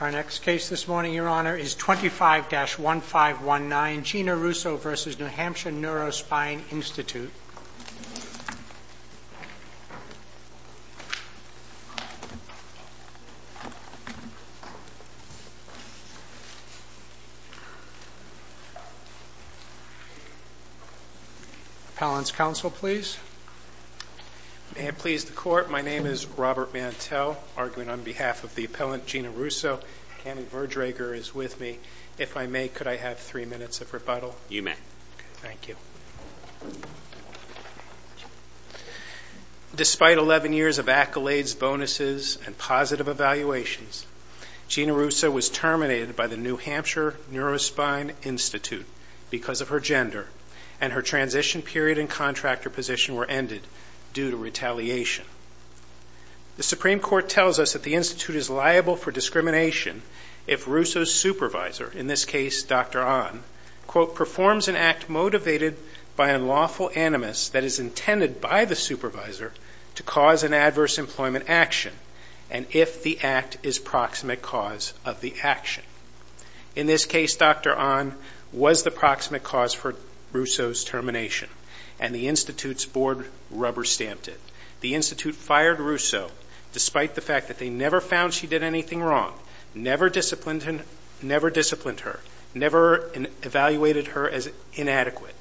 Our next case this morning, Your Honor, is 25-1519, Gina Russo v. New Hampshire Neurospine Institute. Appellant's counsel, please. May I please the court? My name is Robert Mantel. Arguing on behalf of the appellant, Gina Russo. Kenny Berdrager is with me. If I may, could I have three minutes of rebuttal? You may. Thank you. Despite 11 years of accolades, bonuses, and positive evaluations, Gina Russo was terminated by the New Hampshire Neurospine Institute because of her gender, and her transition period and contractor position were ended due to retaliation. The Supreme Court tells us that the Institute is liable for discrimination if Russo's supervisor, in this case, Dr. Ahn, quote, performs an act motivated by unlawful animus that is intended by the supervisor to cause an adverse employment action, and if the act is proximate cause of the action. In this case, Dr. Ahn was the proximate cause for Russo's termination, and the Institute's board rubber-stamped it. The Institute fired Russo despite the fact that they never found she did anything wrong, never disciplined her, never evaluated her as inadequate.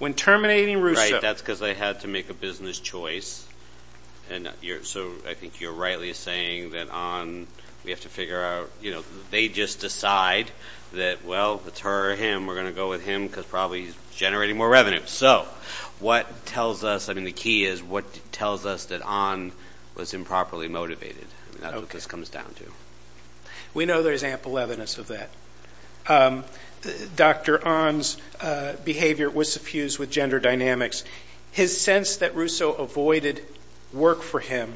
When terminating Russo- Right, that's because they had to make a business choice, and so I think you're rightly saying that Ahn, we have to figure out, you know, they just decide that, well, it's her or him, we're going to go with him because probably he's generating more revenue. So what tells us, I mean, the key is what tells us that Ahn was improperly motivated, and that's what this comes down to. We know there's ample evidence of that. Dr. Ahn's behavior was suffused with gender dynamics. His sense that Russo avoided work for him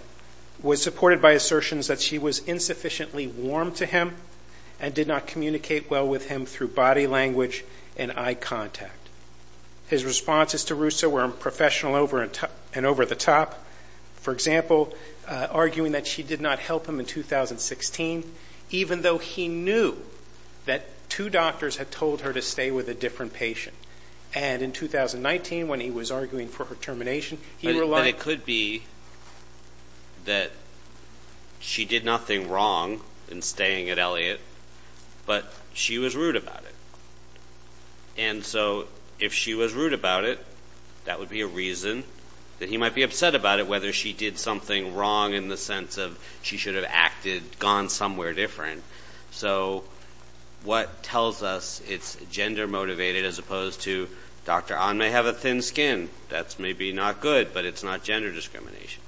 was supported by assertions that she was insufficiently warm to him and did not communicate well with him through body language and eye contact. His responses to Russo were unprofessional and over-the-top, for example, arguing that she did not help him in 2016, even though he knew that two doctors had told her to stay with a different patient. And in 2019, when he was arguing for her termination, he relied on... But it could be that she did nothing wrong in staying at Elliott, but she was rude about it. And so if she was rude about it, that would be a reason that he might be upset about it, whether she did something wrong in the sense of she should have acted, gone somewhere different. So what tells us it's gender-motivated as opposed to Dr. Ahn may have a thin skin. That's maybe not good, but it's not gender discrimination.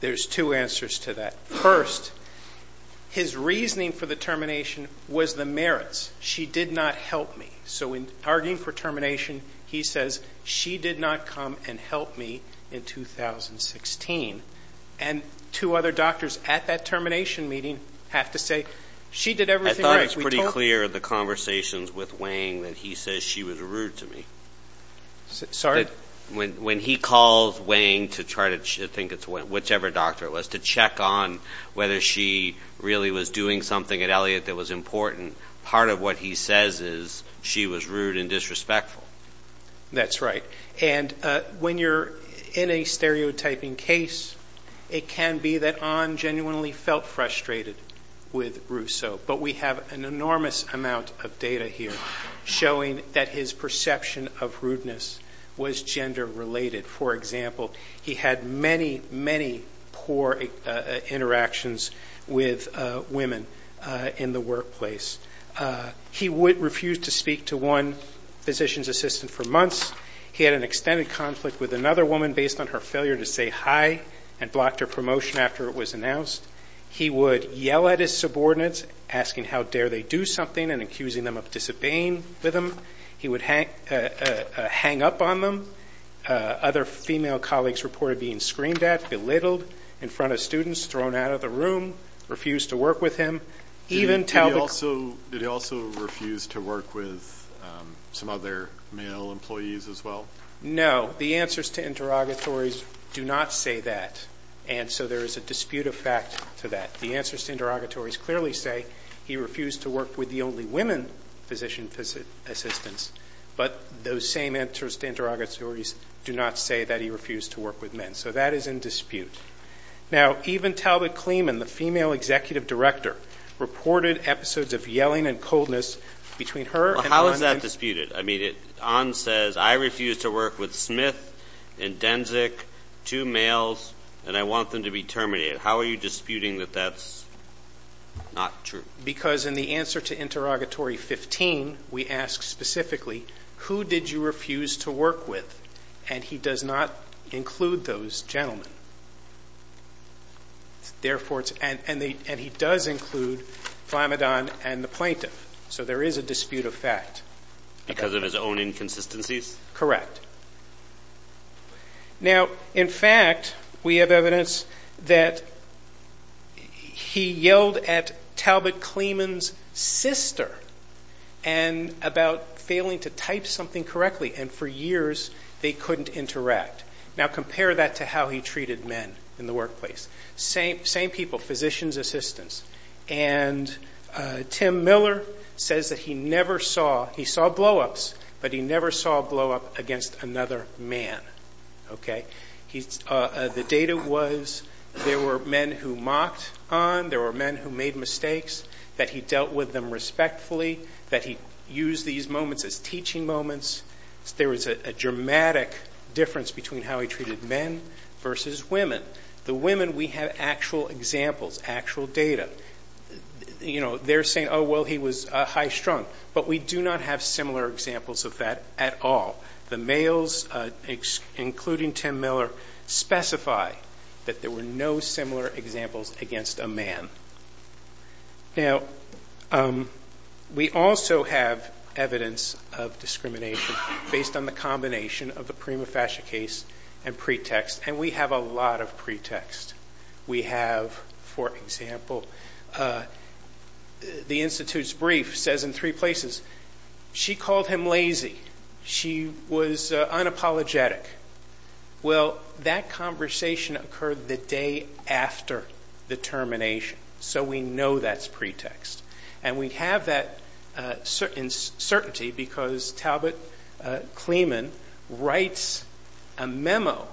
There's two answers to that. First, his reasoning for the termination was the merits. She did not help me. So in arguing for termination, he says she did not come and help me in 2016. And two other doctors at that termination meeting have to say she did everything right. I thought it was pretty clear in the conversations with Wayne that he says she was rude to me. Sorry? When he calls Wayne to try to think it's whichever doctor it was, to check on whether she really was doing something at Elliott that was important, part of what he says is she was rude and disrespectful. That's right. And when you're in a stereotyping case, it can be that Ahn genuinely felt frustrated with Rousseau. But we have an enormous amount of data here showing that his perception of rudeness was gender-related. For example, he had many, many poor interactions with women in the workplace. He refused to speak to one physician's assistant for months. He had an extended conflict with another woman based on her failure to say hi and blocked her promotion after it was announced. He would yell at his subordinates, asking how dare they do something, and accusing them of disobeying with him. He would hang up on them. Other female colleagues reported being screamed at, belittled, in front of students, thrown out of the room, refused to work with him. Did he also refuse to work with some other male employees as well? No. The answers to interrogatories do not say that, and so there is a dispute of facts to that. The answers to interrogatories clearly say he refused to work with the only women physician assistants, but those same answers to interrogatories do not say that he refused to work with men. So that is in dispute. Now, even Talbot Kleeman, the female executive director, reported episodes of yelling and coldness between her and An. How is that disputed? I mean, An says, I refuse to work with Smith and Denzik, two males, and I want them to be terminated. How are you disputing that that is not true? Because in the answer to interrogatory 15, we ask specifically, who did you refuse to work with? And he does not include those gentlemen. And he does include Flamadon and the plaintiff, so there is a dispute of facts. Because of his own inconsistencies? Correct. Now, in fact, we have evidence that he yelled at Talbot Kleeman's sister about failing to type something correctly, and for years they could not interact. Now, compare that to how he treated men in the workplace. Same people, physicians assistants. And Tim Miller says that he saw blowups, but he never saw a blowup against another man. The data was there were men who mocked An, there were men who made mistakes, that he dealt with them respectfully, that he used these moments as teaching moments. There was a dramatic difference between how he treated men versus women. The women, we have actual examples, actual data. You know, they're saying, oh, well, he was high strung. But we do not have similar examples of that at all. The males, including Tim Miller, specify that there were no similar examples against a man. Now, we also have evidence of discrimination based on the combination of the prima facie case and pretext, and we have a lot of pretext. We have, for example, the Institute's brief says in three places, she called him lazy. She was unapologetic. Well, that conversation occurred the day after the termination. So we know that's pretext. And we have that certainty because Talbot Cleman writes a memo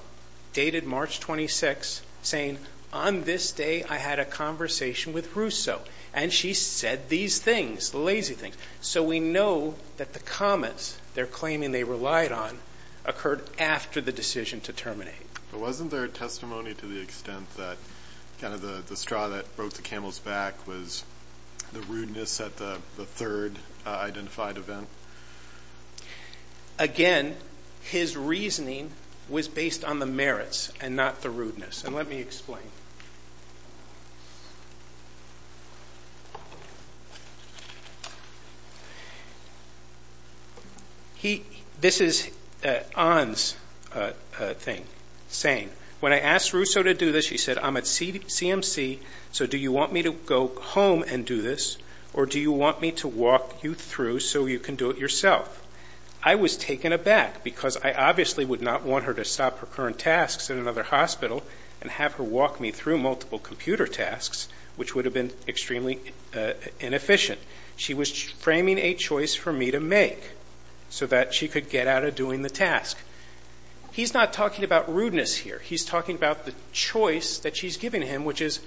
dated March 26th saying, on this day I had a conversation with Russo, and she said these things, lazy things. So we know that the comments they're claiming they relied on occurred after the decision to terminate. Wasn't there a testimony to the extent that kind of the straw that broke the camel's back was the rudeness at the third identified event? Again, his reasoning was based on the merits and not the rudeness. And let me explain. This is Ahn's thing, saying, when I asked Russo to do this, he said, I'm at CMC, so do you want me to go home and do this, or do you want me to walk you through so you can do it yourself? I was taken aback because I obviously would not want her to stop her current tasks in another hospital and have her walk me through multiple computer tasks, which would have been extremely inefficient. She was framing a choice for me to make so that she could get out of doing the task. He's not talking about rudeness here. He's talking about the choice that she's giving him, which is,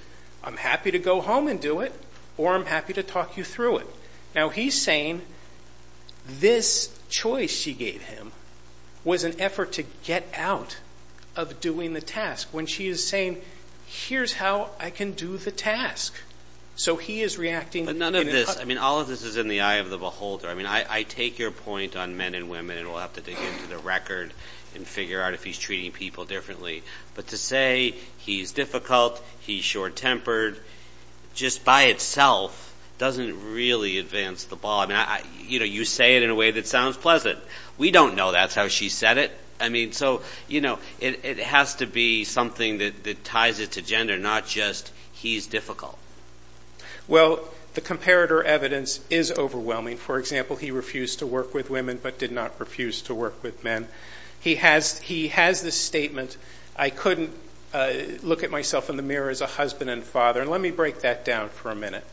I'm happy to go home and do it, or I'm happy to talk you through it. Now, he's saying this choice she gave him was an effort to get out of doing the task, when she is saying, here's how I can do the task. So he is reacting. All of this is in the eye of the beholder. I mean, I take your point on men and women, and we'll have to dig into the record and figure out if he's treating people differently. But to say he's difficult, he's short-tempered, just by itself doesn't really advance the ball. You know, you say it in a way that sounds pleasant. We don't know that's how she said it. I mean, so, you know, it has to be something that ties it to gender, not just he's difficult. Well, the comparator evidence is overwhelming. For example, he refused to work with women but did not refuse to work with men. He has this statement, I couldn't look at myself in the mirror as a husband and father, and let me break that down for a minute.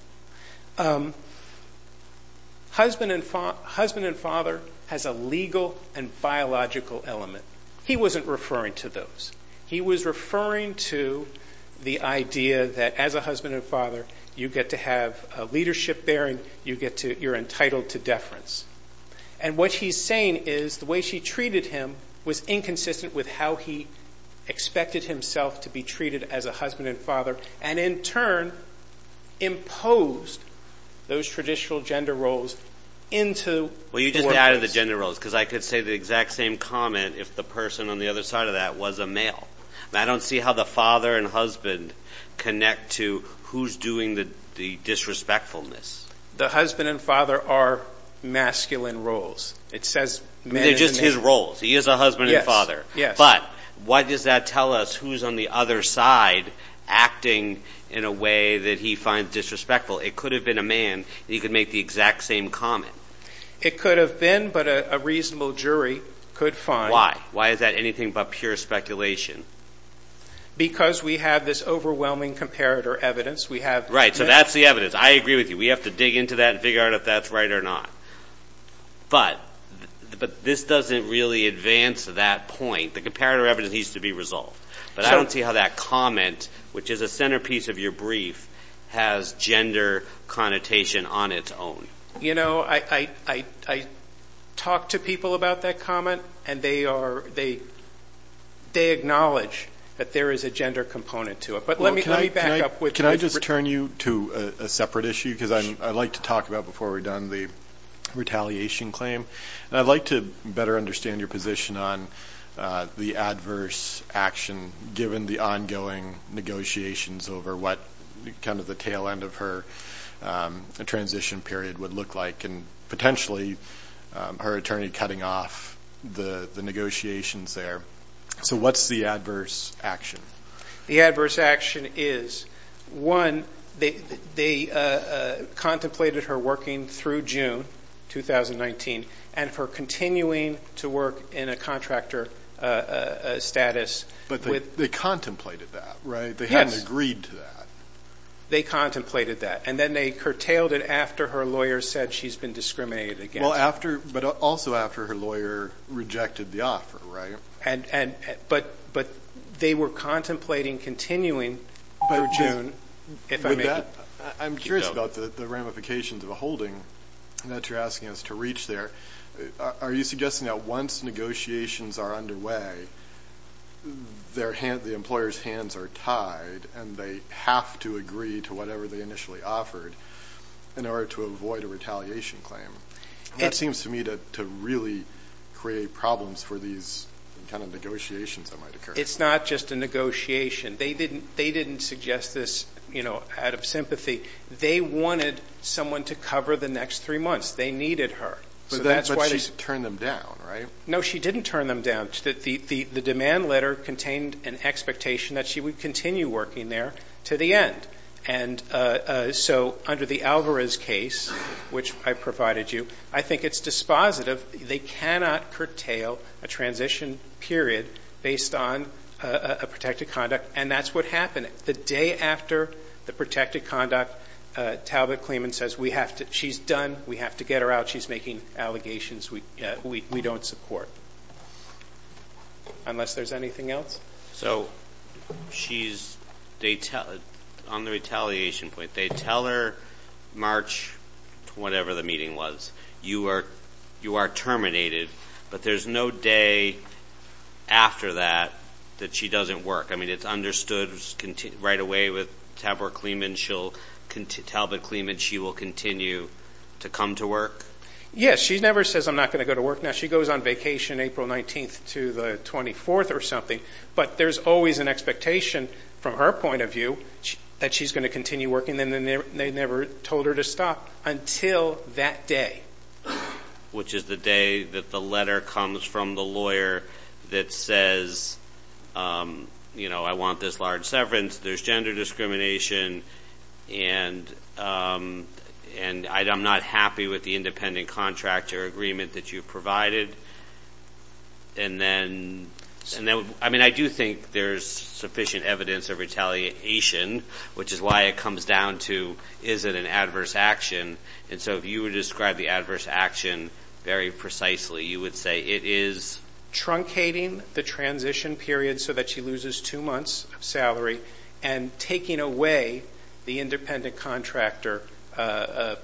Husband and father has a legal and biological element. He wasn't referring to those. He was referring to the idea that as a husband and father, you get to have leadership there, and you're entitled to deference. And what he's saying is the way she treated him was inconsistent with how he expected himself to be treated as a husband and father, and in turn imposed those traditional gender roles into the work. Well, you just added the gender roles, because I could say the exact same comment if the person on the other side of that was a male. I don't see how the father and husband connect to who's doing the disrespectfulness. The husband and father are masculine roles. It's just his roles. He is a husband and father. But why does that tell us who's on the other side acting in a way that he finds disrespectful? It could have been a man. He could make the exact same comment. It could have been, but a reasonable jury could find. Why? Why is that anything but pure speculation? Because we have this overwhelming comparator evidence. Right, so that's the evidence. I agree with you. We have to dig into that and figure out if that's right or not. But this doesn't really advance to that point. The comparator evidence needs to be resolved. But I don't see how that comment, which is a centerpiece of your brief, has gender connotation on its own. You know, I talk to people about that comment, and they acknowledge that there is a gender component to it. Can I just turn you to a separate issue? I'd like to talk about, before we're done, the retaliation claim. I'd like to better understand your position on the adverse action, given the ongoing negotiations over what kind of the tail end of her transition period would look like and potentially her attorney cutting off the negotiations there. So what's the adverse action? The adverse action is, one, they contemplated her working through June 2019 and her continuing to work in a contractor status. But they contemplated that, right? They hadn't agreed to that. They contemplated that. And then they curtailed it after her lawyer said she's been discriminated against. But also after her lawyer rejected the offer, right? But they were contemplating continuing for June. I'm curious about the ramifications of the holding that you're asking us to reach there. Are you suggesting that once negotiations are underway, the employer's hands are tied and they have to agree to whatever they initially offered in order to avoid a retaliation claim? That seems to me to really create problems for these kind of negotiations that might occur. It's not just a negotiation. They didn't suggest this out of sympathy. They wanted someone to cover the next three months. They needed her. But she turned them down, right? No, she didn't turn them down. The demand letter contained an expectation that she would continue working there to the end. So under the Alvarez case, which I provided you, I think it's dispositive. They cannot curtail a transition period based on a protected conduct. And that's what happened. The day after the protected conduct, Talbot-Clement says, she's done. We have to get her out. She's making allegations we don't support, unless there's anything else. So she's on the retaliation point. They tell her, March whatever the meeting was, you are terminated. But there's no day after that that she doesn't work. I mean, it's understood right away with Talbot-Clement she will continue to come to work? Yes, she never says, I'm not going to go to work now. She goes on vacation April 19th to the 24th or something. But there's always an expectation from her point of view that she's going to continue working. And they never told her to stop until that day. Which is the day that the letter comes from the lawyer that says, you know, I want this large severance. There's gender discrimination. And I'm not happy with the independent contractor agreement that you provided. And then, I mean, I do think there's sufficient evidence of retaliation, which is why it comes down to, is it an adverse action? And so if you would describe the adverse action very precisely, you would say it is? Truncating the transition period so that she loses two months of salary and taking away the independent contractor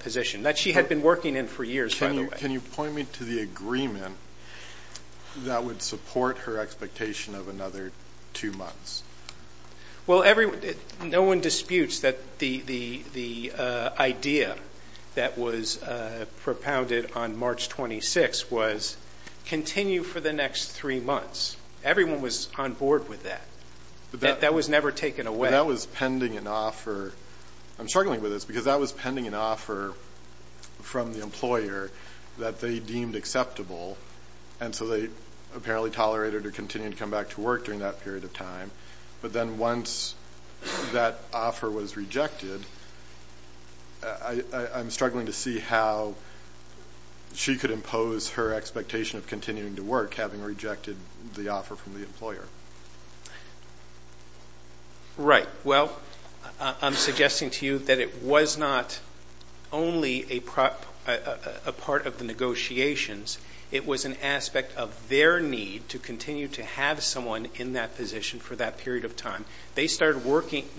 position that she had been working in for years, by the way. Can you point me to the agreement that would support her expectation of another two months? Well, no one disputes that the idea that was propounded on March 26th was continue for the next three months. Everyone was on board with that. That was never taken away. That was pending an offer. I'm struggling with this because that was pending an offer from the employer that they deemed acceptable. And so they apparently tolerated her continuing to come back to work during that period of time. But then once that offer was rejected, I'm struggling to see how she could impose her expectation of continuing to work, having rejected the offer from the employer. Right. Well, I'm suggesting to you that it was not only a part of the negotiations. It was an aspect of their need to continue to have someone in that position for that period of time. They started recruiting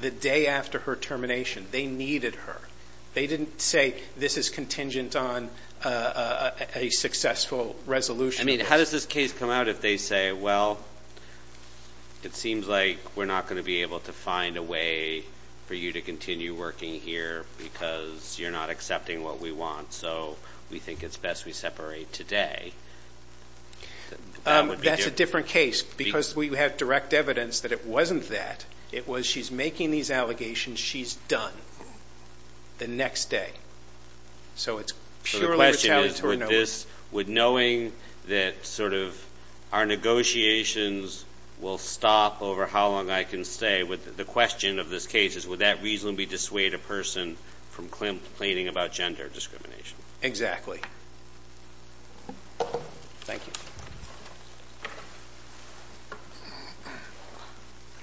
the day after her termination. They needed her. They didn't say this is contingent on a successful resolution. I mean, how does this case come out if they say, well, it seems like we're not going to be able to find a way for you to continue working here because you're not accepting what we want, so we think it's best we separate today? That's a different case because we have direct evidence that it wasn't that. It was she's making these allegations. She's done. The next day. So the question is, with knowing that sort of our negotiations will stop over how long, I can say the question of this case is, would that reasonably dissuade a person from complaining about gender discrimination? Exactly. Thank you.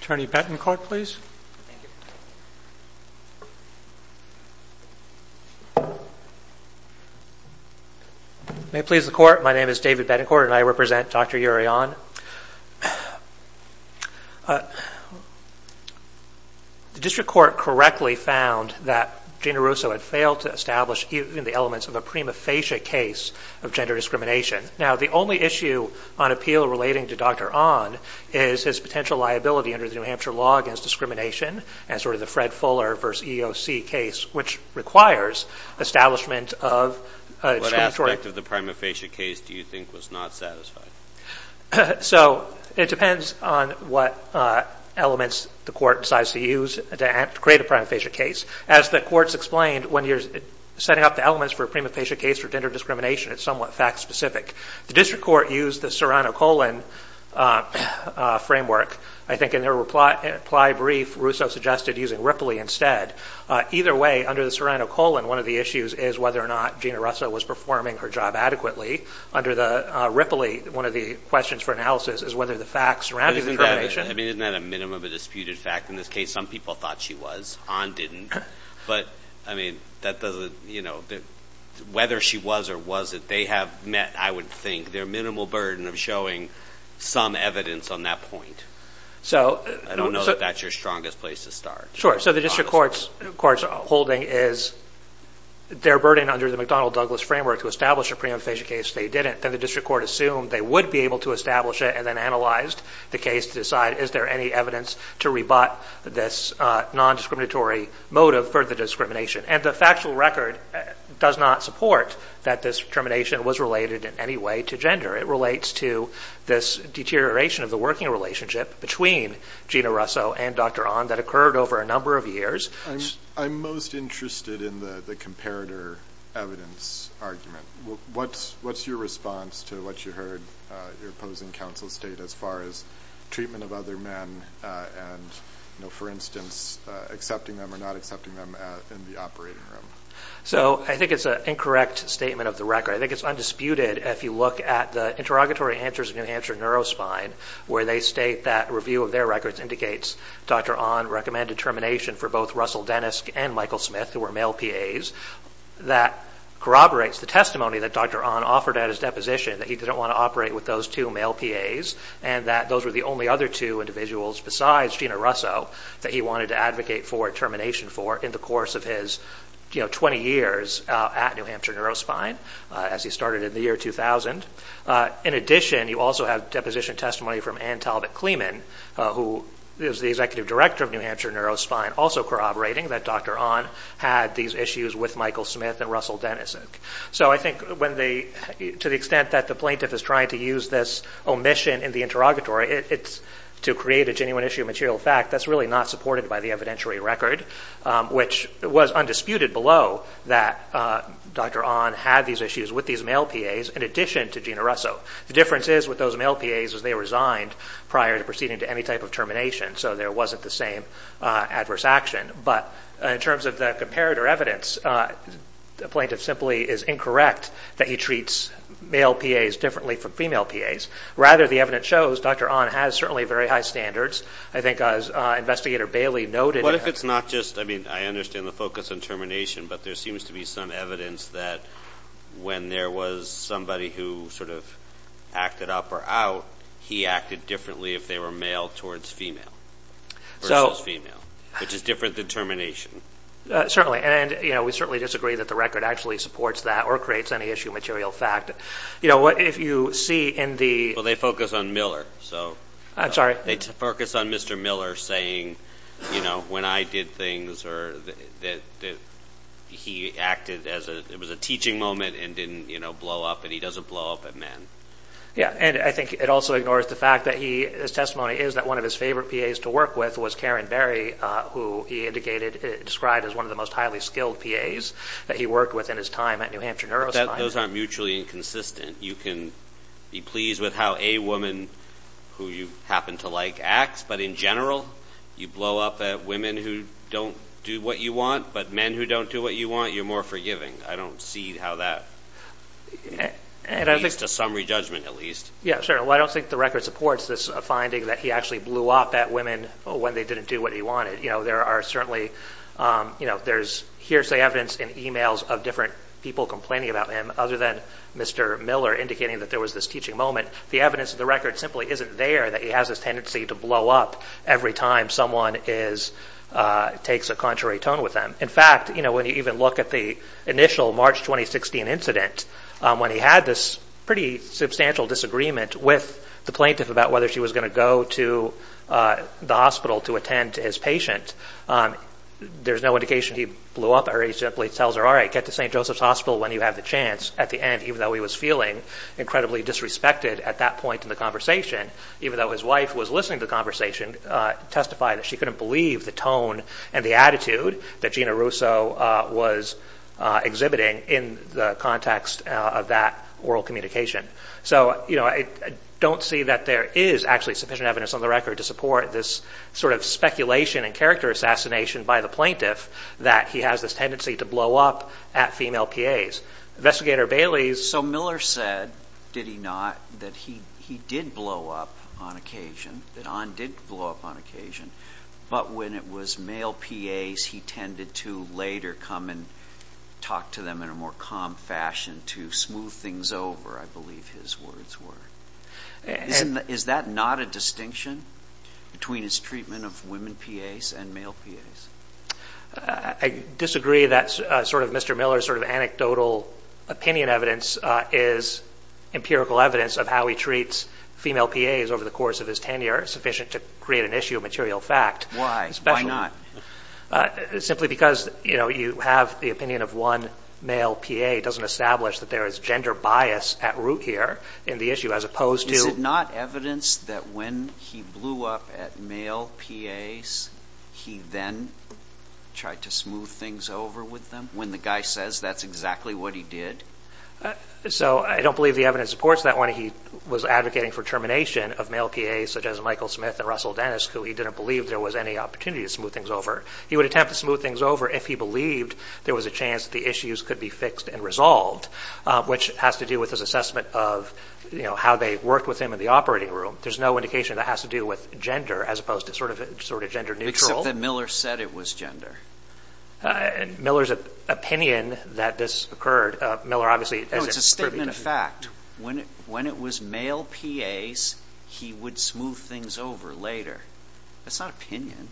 Attorney Betancourt, please. May it please the Court, my name is David Betancourt and I represent Dr. Urion. The district court correctly found that Gina Russo had failed to establish the elements of a prima facie case of gender discrimination. Now, the only issue on appeal relating to Dr. Onn is his potential liability under the New Hampshire law against discrimination and sort of the Fred Fuller v. EOC case, which requires establishment of a district court. What aspect of the prima facie case do you think was not satisfied? So it depends on what elements the court decides to use to create a prima facie case. As the court's explained, when you're setting up the elements for a prima facie case for gender discrimination, it's somewhat fact specific. The district court used the Serrano-Colin framework. I think in their reply brief, Russo suggested using Ripley instead. Either way, under the Serrano-Colin, one of the issues is whether or not Gina Russo was performing her job adequately. Under the Ripley, one of the questions for analysis is whether the facts surrounding discrimination I mean, isn't that a minimum of a disputed fact in this case? Some people thought she was, Onn didn't. But, I mean, whether she was or wasn't, they have met, I would think, their minimal burden of showing some evidence on that point. I don't know if that's your strongest place to start. Sure. So the district court's holding is their burden under the McDonnell-Douglas framework to establish a prima facie case, they didn't. And the district court assumed they would be able to establish it and then analyzed the case to decide is there any evidence to rebut this nondiscriminatory motive for the discrimination. And the factual record does not support that discrimination was related in any way to gender. It relates to this deterioration of the working relationship between Gina Russo and Dr. Onn that occurred over a number of years. I'm most interested in the comparator evidence argument. What's your response to what you heard your opposing counsel state as far as treatment of other men and, you know, for instance, accepting them or not accepting them in the operating room? So I think it's an incorrect statement of the record. I think it's undisputed if you look at the interrogatory answers in the Neurospine where they state that review of their records indicates Dr. Onn recommended termination for both Russell Dennis and Michael Smith, who were male PAs. That corroborates the testimony that Dr. Onn offered at his deposition, that he didn't want to operate with those two male PAs, and that those were the only other two individuals besides Gina Russo that he wanted to advocate for termination for in the course of his, you know, 20 years at New Hampshire Neurospine, as he started in the year 2000. In addition, you also have deposition testimony from Ann Talbot-Clemen, who is the executive director of New Hampshire Neurospine, also corroborating that Dr. Onn had these issues with Michael Smith and Russell Dennis. So I think to the extent that the plaintiff is trying to use this omission in the interrogatory to create a genuine issue of material fact, that's really not supported by the evidentiary record, which was undisputed below that Dr. Onn had these issues with these male PAs, in addition to Gina Russo. The difference is with those male PAs is they resigned prior to proceeding to any type of termination, so there wasn't the same adverse action. But in terms of the comparator evidence, the plaintiff simply is incorrect that he treats male PAs differently from female PAs. Rather, the evidence shows Dr. Onn has certainly very high standards. I think as Investigator Bailey noted... What if it's not just, I mean, I understand the focus on termination, but there seems to be some evidence that when there was somebody who sort of acted up or out, he acted differently if they were male versus female, which is different than termination. Certainly. And we certainly disagree that the record actually supports that or creates any issue of material fact. What if you see in the... Well, they focus on Miller. I'm sorry? They focus on Mr. Miller saying, you know, when I did things, or that he acted as if it was a teaching moment and didn't blow up, and he doesn't blow up at men. Yeah, and I think it also ignores the fact that his testimony is that one of his favorite PAs to work with was Karen Berry, who he indicated described as one of the most highly skilled PAs that he worked with in his time at New Hampshire Neuroscience. Those aren't mutually inconsistent. You can be pleased with how a woman who you happen to like acts, but in general you blow up at women who don't do what you want, but men who don't do what you want, you're more forgiving. I don't see how that leads to some re-judgment, at least. Yeah, sure. Well, I don't think the record supports this finding that he actually blew up at women when they didn't do what he wanted. You know, there are certainly hearsay evidence in e-mails of different people complaining about him, other than Mr. Miller indicating that there was this teaching moment. The evidence of the record simply isn't there that he has this tendency to blow up every time someone takes a contrary tone with him. In fact, you know, when you even look at the initial March 2016 incident, when he had this pretty substantial disagreement with the plaintiff about whether she was going to go to the hospital to attend to his patient, there's no indication he blew up at her. He simply tells her, all right, get to St. Joseph's Hospital when you have the chance. At the end, even though he was feeling incredibly disrespected at that point in the conversation, even though his wife was listening to the conversation, she couldn't believe the tone and the attitude that Gina Russo was exhibiting in the context of that oral communication. So, you know, I don't see that there is actually sufficient evidence on the record to support this sort of speculation and character assassination by the plaintiff that he has this tendency to blow up at female PAs. So Miller said, did he not, that he did blow up on occasion, that Ann did blow up on occasion, but when it was male PAs he tended to later come and talk to them in a more calm fashion to smooth things over, I believe his words were. Is that not a distinction between his treatment of women PAs and male PAs? I disagree that sort of Mr. Miller's sort of anecdotal opinion evidence is empirical evidence of how he treats female PAs over the course of his tenure, sufficient to create an issue of material fact. Why? Why not? Simply because, you know, you have the opinion of one male PA doesn't establish that there is gender bias at root here in the issue as opposed to... So is it not evidence that when he blew up at male PAs he then tried to smooth things over with them? When the guy says that's exactly what he did? So I don't believe the evidence supports that when he was advocating for termination of male PAs such as Michael Smith and Russell Dennis who he didn't believe there was any opportunity to smooth things over. He would attempt to smooth things over if he believed there was a chance the issues could be fixed and resolved, which has to do with his assessment of how they worked with him in the operating room. There's no indication that has to do with gender as opposed to sort of gender neutral. Except that Miller said it was gender. Miller's opinion that this occurred... No, it's a statement of fact. When it was male PAs he would smooth things over later. That's not opinion.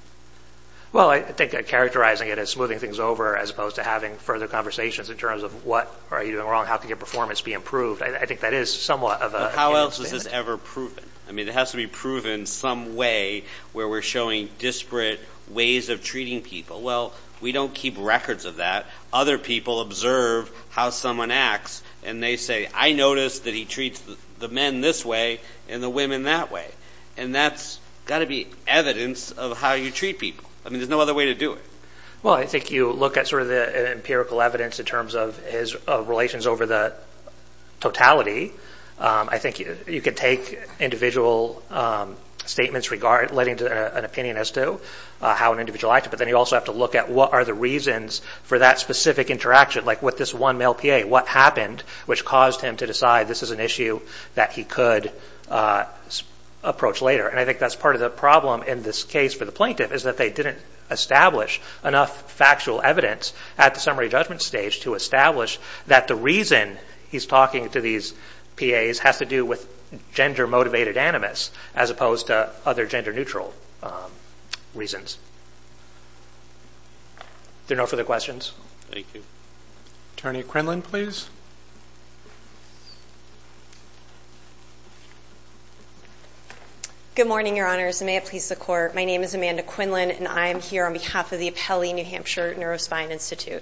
Well, I think I'm characterizing it as smoothing things over as opposed to having further conversations in terms of what are you doing wrong? How can your performance be improved? I think that is somewhat of a... How else is this ever proven? I mean, it has to be proven some way where we're showing disparate ways of treating people. Well, we don't keep records of that. Other people observe how someone acts and they say, I noticed that he treats the men this way and the women that way. And that's got to be evidence of how you treat people. I mean, there's no other way to do it. Well, I think you look at sort of the empirical evidence in terms of his relations over the totality. I think you can take individual statements relating to an opinion as to how an individual acted, but then you also have to look at what are the reasons for that specific interaction, like with this one male PA, what happened, which caused him to decide this is an issue that he could approach later. And I think that's part of the problem in this case for the plaintiff, is that they didn't establish enough factual evidence at the summary judgment stage to establish that the reason he's talking to these PAs have to do with gender-motivated animus, as opposed to other gender-neutral reasons. Is there no further questions? Thank you. Attorney Crenlan, please. Good morning, Your Honors, and may it please the Court. My name is Amanda Crenlan, and I am here on behalf of the Apelli New Hampshire Neuroscience Institute.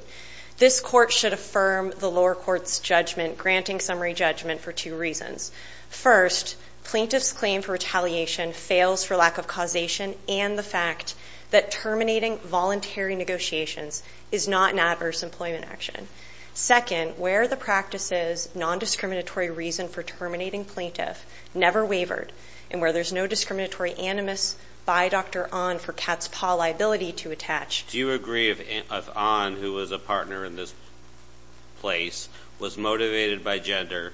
This Court should affirm the lower court's judgment, granting summary judgment for two reasons. First, plaintiff's claim for retaliation fails for lack of causation and the fact that terminating voluntary negotiations is not an adverse employment action. Second, where the plaintiff's claim for retaliation fails for lack of causation and the practice's nondiscriminatory reason for terminating plaintiff never wavered and where there's no discriminatory animus by Dr. Ahn for Katz et al. liability to attach. Do you agree if Ahn, who was a partner in this place, was motivated by gender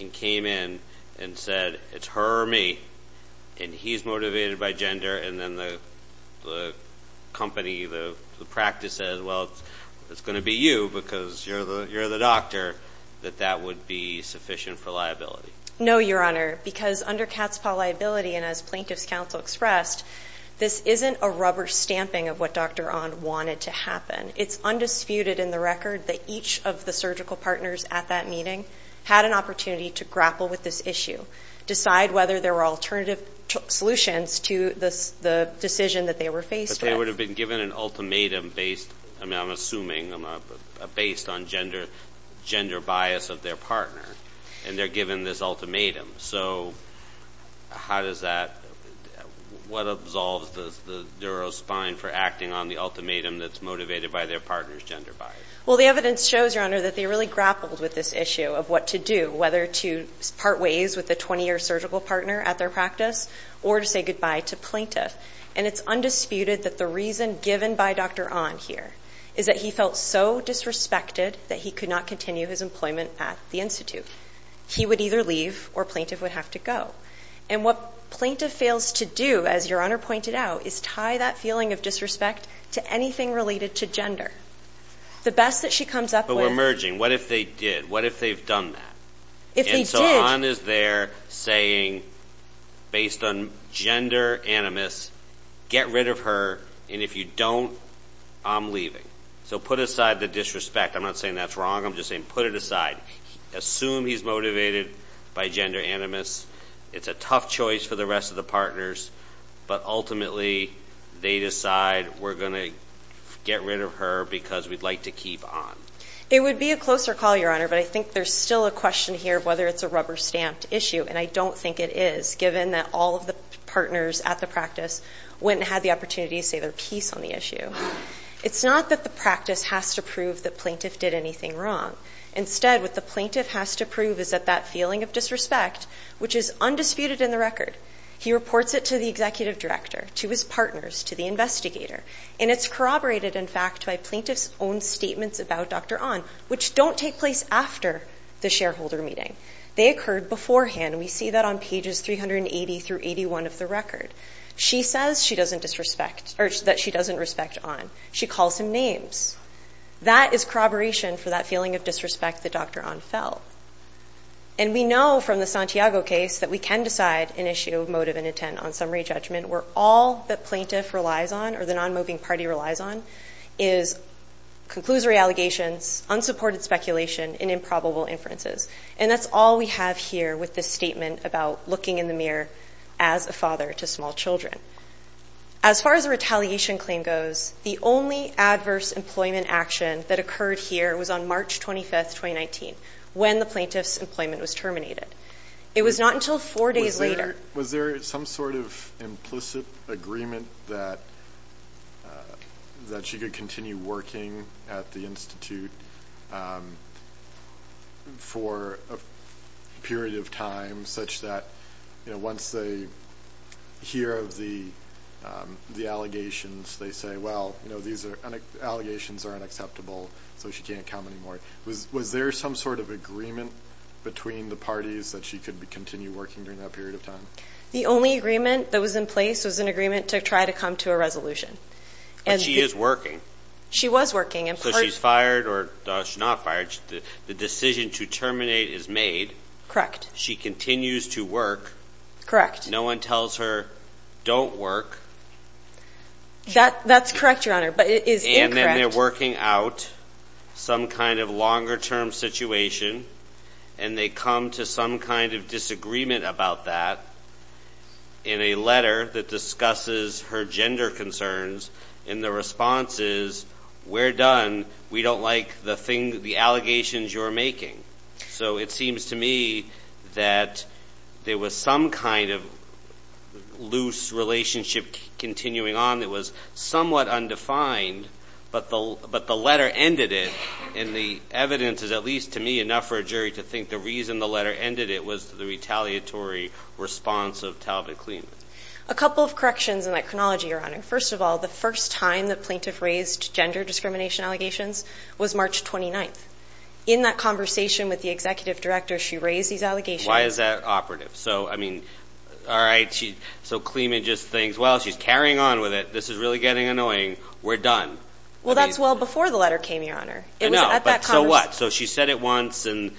and came in and said, it's her or me, and he's motivated by gender, and then the company, the practice says, well, it's going to be you because you're the doctor, that that would be sufficient for liability? No, Your Honor, because under Katz et al. liability, and as Plaintiff's Counsel expressed, this isn't a rubber stamping of what Dr. Ahn wanted to happen. It's undisputed in the record that each of the surgical partners at that meeting had an opportunity to grapple with this issue, decide whether there were alternative solutions to the decision that they were faced with. But they would have been given an ultimatum based, I'm assuming, based on gender bias of their partner, and they're given this ultimatum. So how does that, what absolves the neurospine for acting on the ultimatum that's motivated by their partner's gender bias? Well, the evidence shows, Your Honor, that they really grappled with this issue of what to do, whether to part ways with the 20-year surgical partner at their practice or to say goodbye to Plaintiff. And it's undisputed that the reason given by Dr. Ahn here is that he felt so disrespected that he could not continue his employment at the Institute. He would either leave or Plaintiff would have to go. And what Plaintiff fails to do, as Your Honor pointed out, is tie that feeling of disrespect to anything related to gender. So we're merging. What if they did? What if they've done that? And so Ahn is there saying, based on gender animus, get rid of her, and if you don't, I'm leaving. So put aside the disrespect. I'm not saying that's wrong. I'm just saying put it aside. Assume he's motivated by gender animus. It's a tough choice for the rest of the partners. But ultimately, they decide we're going to get rid of her because we'd like to keep Ahn. It would be a closer call, Your Honor, but I think there's still a question here of whether it's a rubber-stamped issue, and I don't think it is, given that all of the partners at the practice went and had the opportunity to say their piece on the issue. It's not that the practice has to prove that Plaintiff did anything wrong. Instead, what the Plaintiff has to prove is that that feeling of disrespect, which is undisputed in the record, he reports it to the Executive Director, to his partners, to the investigator, and it's corroborated, in fact, by Plaintiff's own statements about Dr. Ahn, which don't take place after the shareholder meeting. They occurred beforehand, and we see that on pages 380 through 81 of the record. She says that she doesn't respect Ahn. She calls him names. That is corroboration for that feeling of disrespect that Dr. Ahn felt. And we know from the Santiago case that we can decide an issue of motive and intent on summary judgment where all that Plaintiff relies on, or the non-moving party relies on, is conclusory allegations, unsupported speculation, and improbable inferences. And that's all we have here with this statement about looking in the mirror as a father to small children. As far as the retaliation claim goes, the only adverse employment action that occurred here was on March 25, 2019, when the Plaintiff's employment was terminated. It was not until four days later. Was there some sort of implicit agreement that she could continue working at the Institute for a period of time, such that once they hear of the allegations, they say, well, these allegations are unacceptable, so she can't come anymore? Was there some sort of agreement between the parties that she could continue working during that period of time? The only agreement that was in place was an agreement to try to come to a resolution. But she is working. She was working. So she's fired, or she's not fired. The decision to terminate is made. Correct. She continues to work. Correct. No one tells her, don't work. That's correct, Your Honor, but it is incorrect. And then they're working out some kind of longer-term situation, and they come to some kind of disagreement about that in a letter that discusses her gender concerns, and the response is, we're done. We don't like the allegations you're making. So it seems to me that there was some kind of loose relationship continuing on that was somewhat undefined, but the letter ended it, and the evidence is, at least to me, enough for a jury to think the reason the letter ended it was the retaliatory response of Talbot Clements. A couple of corrections in that chronology, Your Honor. First of all, the first time the plaintiff raised gender discrimination allegations was March 29th. In that conversation with the executive director, she raised these allegations. Why is that operative? So, I mean, all right, so Clement just thinks, well, she's carrying on with it. This is really getting annoying. We're done. Well, that's well before the letter came, Your Honor. No, but so what? So she said it once, and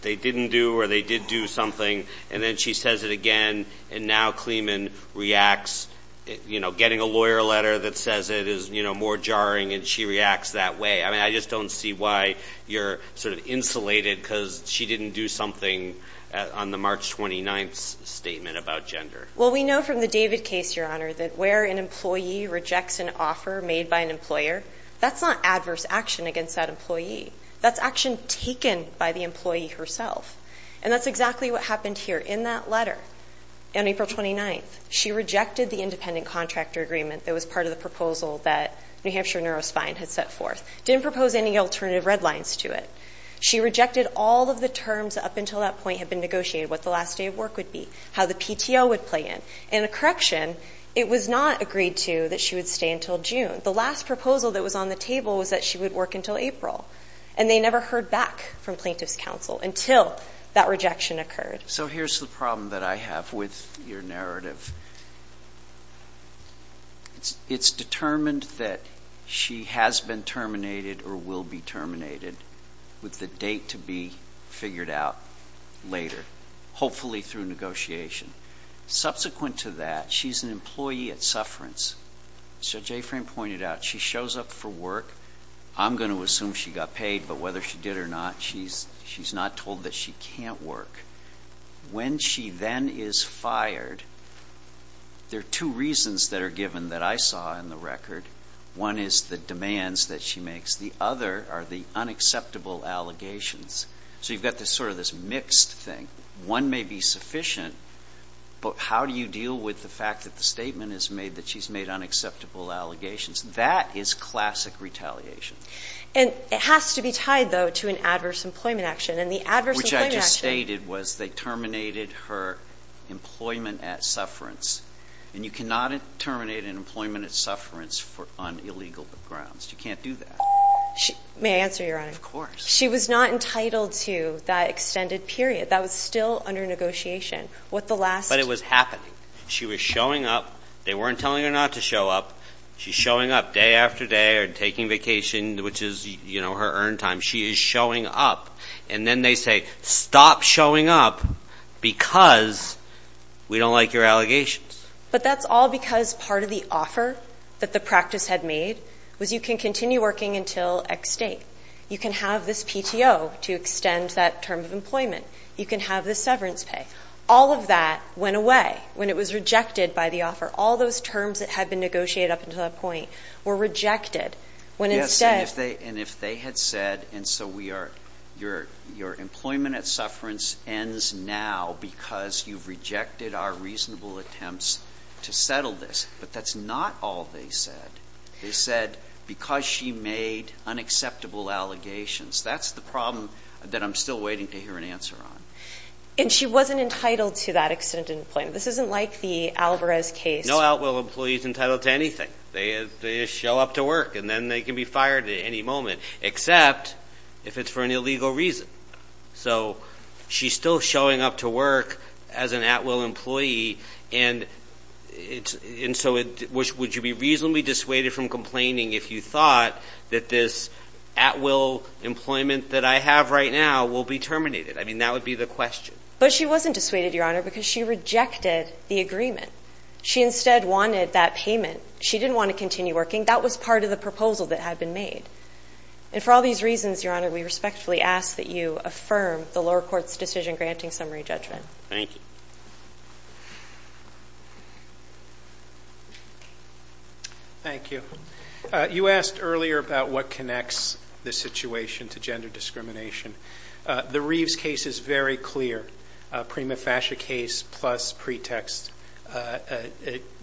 they didn't do or they did do something, and then she says it again, and now Clement reacts, you know, getting a lawyer a letter that says it is, you know, more jarring, and she reacts that way. I mean, I just don't see why you're sort of insulated because she didn't do something on the March 29th statement about gender. Well, we know from the David case, Your Honor, that where an employee rejects an offer made by an employer, that's not adverse action against that employee. That's action taken by the employee herself, and that's exactly what happened here in that letter on April 29th. She rejected the independent contractor agreement that was part of the proposal that New Hampshire Neurospine had set forth. Didn't propose any alternative red lines to it. She rejected all of the terms up until that point had been negotiated, what the last day of work would be, how the PTO would play in, and the correction, it was not agreed to that she would stay until June. The last proposal that was on the table was that she would work until April, and they never heard back from Plaintiff's Counsel until that rejection occurred. So here's the problem that I have with your narrative. It's determined that she has been terminated or will be terminated with the date to be figured out later, hopefully through negotiation. Subsequent to that, she's an employee at Sufferance. As Judge Affran pointed out, she shows up for work. I'm going to assume she got paid, but whether she did or not, she's not told that she can't work. When she then is fired, there are two reasons that are given that I saw in the record. One is the demands that she makes. The other are the unacceptable allegations. So you've got sort of this mixed thing. One may be sufficient, but how do you deal with the fact that the statement is made that she's made unacceptable allegations? That is classic retaliation. And it has to be tied, though, to an adverse employment action. And the adverse employment action... Which I just stated was they terminated her employment at Sufferance. And you cannot terminate an employment at Sufferance on illegal grounds. You can't do that. May I answer, Your Honor? Of course. She was not entitled to that extended period. That was still under negotiation. What the last... But it was happening. She was showing up. They weren't telling her not to show up. She's showing up day after day and taking vacations, which is, you know, her earned time. She is showing up. And then they say, stop showing up because we don't like your allegations. But that's all because part of the offer that the practice had made was you can continue working until X date. You can have this PTO to extend that term of employment. You can have this severance pay. All of that went away when it was rejected by the offer. All those terms that had been negotiated up until that point were rejected. And if they had said, and so your employment at Sufferance ends now because you've rejected our reasonable attempts to settle this. But that's not all they said. They said because she made unacceptable allegations. That's the problem that I'm still waiting to hear an answer on. And she wasn't entitled to that extended employment. This isn't like the Alvarez case. No at-will employee is entitled to anything. They show up to work and then they can be fired at any moment, except if it's for an illegal reason. So she's still showing up to work as an at-will employee. And so would you be reasonably dissuaded from complaining if you thought that this at-will employment that I have right now will be terminated? I mean, that would be the question. But she wasn't dissuaded, Your Honor, because she rejected the agreement. She instead wanted that payment. She didn't want to continue working. That was part of the proposal that had been made. And for all these reasons, Your Honor, we respectfully ask that you affirm the lower court's decision granting summary judgment. Thank you. Thank you. You asked earlier about what connects this situation to gender discrimination. The Reeves case is very clear. A prima facie case plus pretext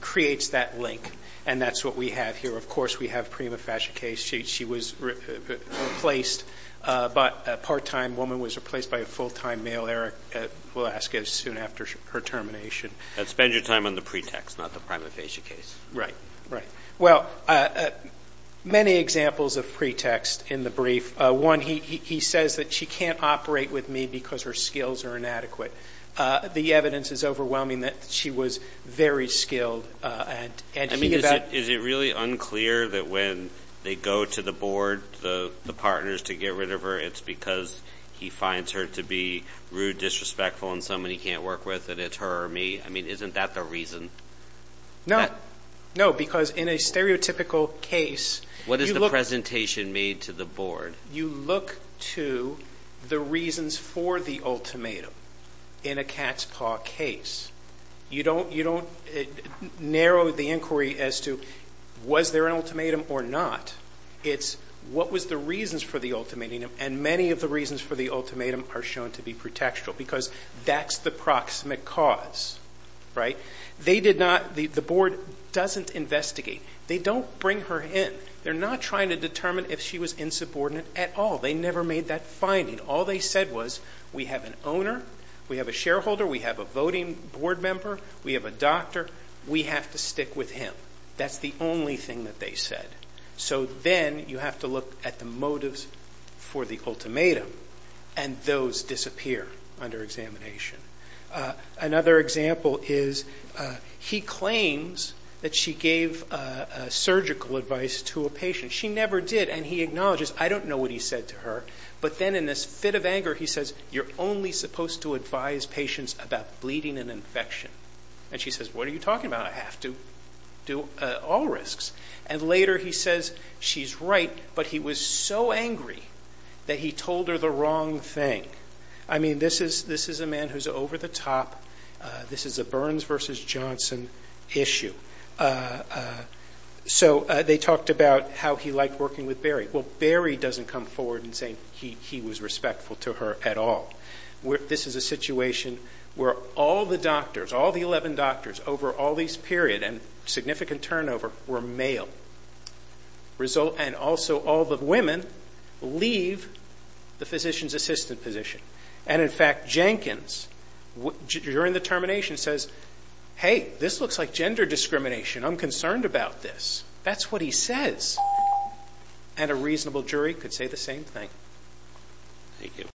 creates that link, and that's what we have here. Of course, we have prima facie case. She was replaced, but a part-time woman was replaced by a full-time male, Eric Velasquez, soon after her termination. Spend your time on the pretext, not the prima facie case. Right, right. Well, many examples of pretext in the brief. One, he says that she can't operate with me because her skills are inadequate. The evidence is overwhelming that she was very skilled. I mean, is it really unclear that when they go to the board, the partners, to get rid of her, it's because he finds her to be rude, disrespectful, and somebody he can't work with, and it's her or me? I mean, isn't that the reason? No. No, because in a stereotypical case, you look at... You look to the reasons for the ultimatum in a cat's paw case. You don't narrow the inquiry as to was there an ultimatum or not. It's what was the reasons for the ultimatum, and many of the reasons for the ultimatum are shown to be pretextual because that's the proximate cause, right? They did not... The board doesn't investigate. They don't bring her in. They're not trying to determine if she was insubordinate at all. They never made that finding. All they said was, we have an owner, we have a shareholder, we have a voting board member, we have a doctor. We have to stick with him. That's the only thing that they said. So then you have to look at the motives for the ultimatum, and those disappear under examination. Another example is he claims that she gave surgical advice to a patient. She never did, and he acknowledges, I don't know what he said to her. But then in this fit of anger, he says, you're only supposed to advise patients about bleeding and infection. And she says, what are you talking about? I have to do all risks. And later he says, she's right, but he was so angry that he told her the wrong thing. I mean, this is a man who's over the top. This is a Burns versus Johnson issue. So they talked about how he liked working with Barry. Well, Barry doesn't come forward and say he was respectful to her at all. This is a situation where all the doctors, all the 11 doctors over all this period and significant turnover were male. And also all the women leave the physician's assistant position. And, in fact, Jenkins, during the termination, says, hey, this looks like gender discrimination. I'm concerned about this. That's what he says. And a reasonable jury could say the same thing. Thank you. Thank you. Thank you. Thank you.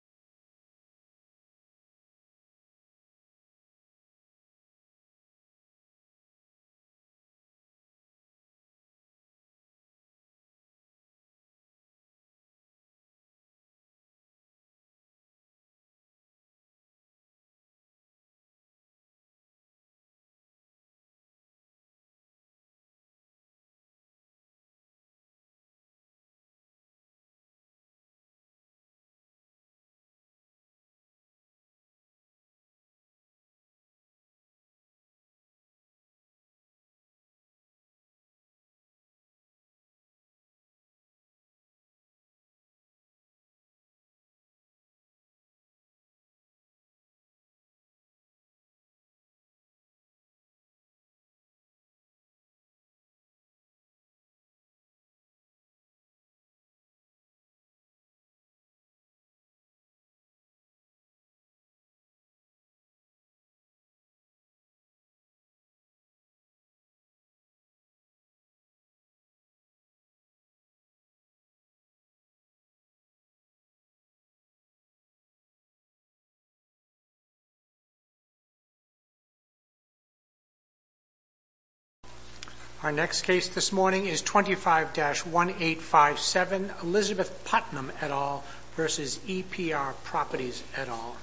Our next case this morning is 25-1857, Elizabeth Putnam, et al. versus EPR Properties et al.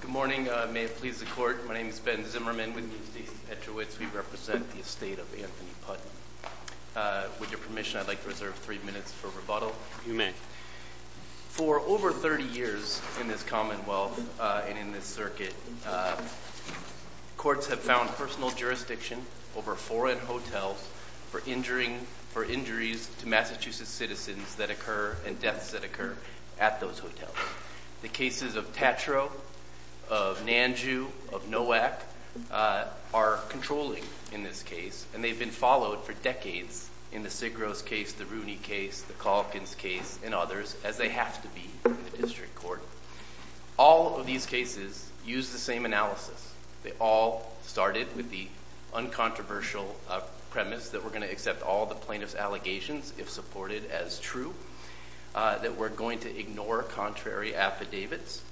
Good morning, may it please the court. My name is Ben Zimmerman. We represent the estate of Anthony Putnam. With your permission, I'd like to reserve three minutes for rebuttal. You may. For over 30 years in this commonwealth and in this circuit, courts have found personal jurisdiction over foreign hotels for injuries to Massachusetts citizens that occur and deaths that occur at those hotels. The cases of Tatro, of Nanju, of Nowak are controlling in this case, and they've been followed for decades in the Sigros case, the Rooney case, the Kalkins case, and others, as they have to be in the district court. All of these cases use the same analysis. They all started with the uncontroversial premise that we're going to accept all the plaintiff's allegations if supported as true, that we're going to ignore contrary affidavits,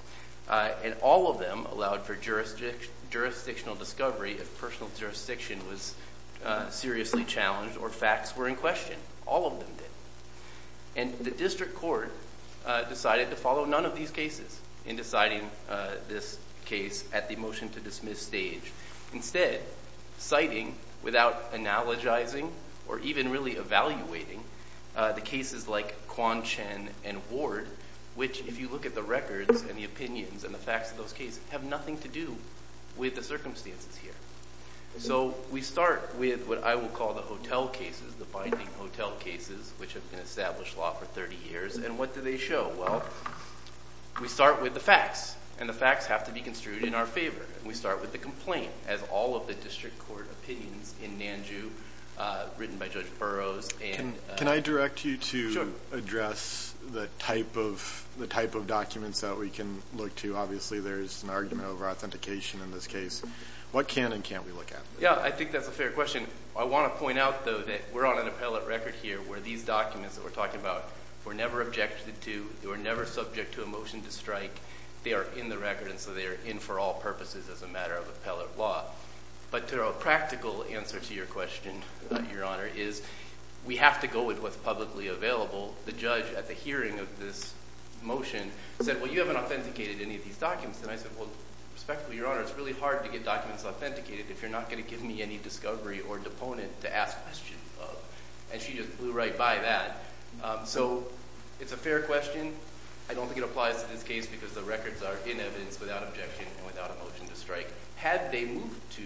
and all of them allowed for jurisdictional discovery if personal jurisdiction was seriously challenged or facts were in question. All of them did. The district court decided to follow none of these cases in deciding this case at the motion to dismiss stage, instead citing, without analogizing or even really evaluating, the cases like Kwon, Chen, and Ward, which, if you look at the records and the opinions and the facts of those cases, have nothing to do with the circumstances here. We start with what I will call the hotel cases, the five key hotel cases which have been established law for 30 years, and what do they show? Well, we start with the facts, and the facts have to be construed in our favor, and we start with the complaint, as all of the district court opinions in NANJU, written by Judge Burroughs. Can I direct you to address the type of documents that we can look to? Obviously, there's an argument over authentication in this case. What can and can't we look at? Yeah, I think that's a fair question. I want to point out, though, that we're on an appellate record here where these documents that we're talking about were never objected to. They were never subject to a motion to strike. They are in the record, and so they are in for all purposes as a matter of appellate law. But a practical answer to your question, Your Honor, is we have to go with what's publicly available. The judge, at the hearing of this motion, said, well, you haven't authenticated any of these documents. And I said, well, respectfully, Your Honor, it's really hard to get documents authenticated if you're not going to give me any discovery or deponent to ask questions of. And she just flew right by that. So it's a fair question. I don't think it applies in this case because the records are in evidence without objection and without a motion to strike. Had they moved to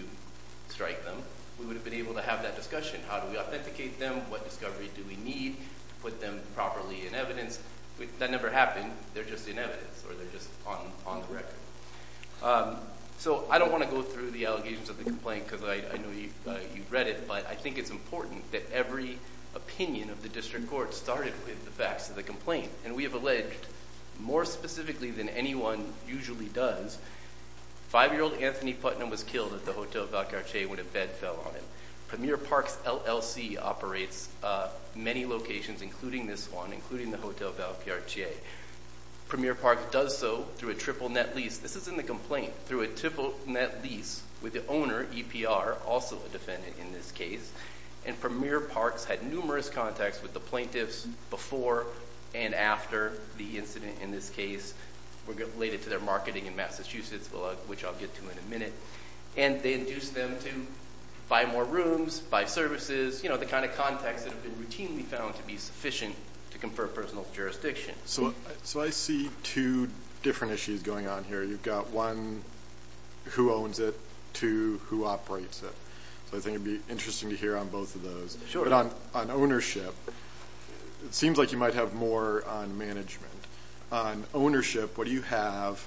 strike them, we would have been able to have that discussion. How do we authenticate them? What discoveries do we need to put them properly in evidence? That never happened. They're just in evidence, or they're just on the record. So I don't want to go through the allegations of the complaint because I know you've read it, but I think it's important that every opinion of the district court started with the facts of the complaint. And we have alleged, more specifically than anyone usually does, five-year-old Anthony Putnam was killed at the Hotel Valcarce when a bed fell on him. Premier Parks LLC operates many locations, including this one, including the Hotel Valcarce. Premier Parks does so through a triple-net lease. This is in the complaint. Through a triple-net lease with the owner, EPR, also a defendant in this case, and Premier Parks had numerous contacts with the plaintiffs before and after the incident in this case related to their marketing in Massachusetts, which I'll get to in a minute. And they induced them to buy more rooms, buy services, the kind of contacts that they routinely found to be sufficient to confer personal jurisdiction. So I see two different issues going on here. You've got one, who owns it, two, who operates it. I think it would be interesting to hear on both of those. Sure. But on ownership, it seems like you might have more on management. On ownership, what do you have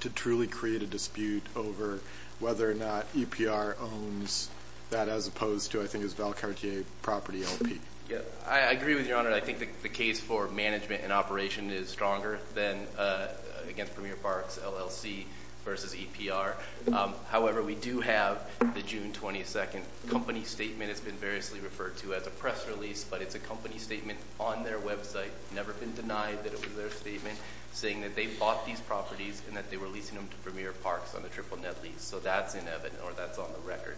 to truly create a dispute over whether or not EPR owns that as opposed to, I think, his Valcarce property LP? I agree with your Honor. I think the case for management and operation is stronger than against Premier Parks LLC versus EPR. However, we do have the June 22nd company statement. It's been variously referred to as a press release, but it's a company statement on their website. It's never been denied that it was their statement, saying that they bought these properties and that they were leasing them to Premier Parks on the triple-net lease. So that's in evidence, or that's on the record.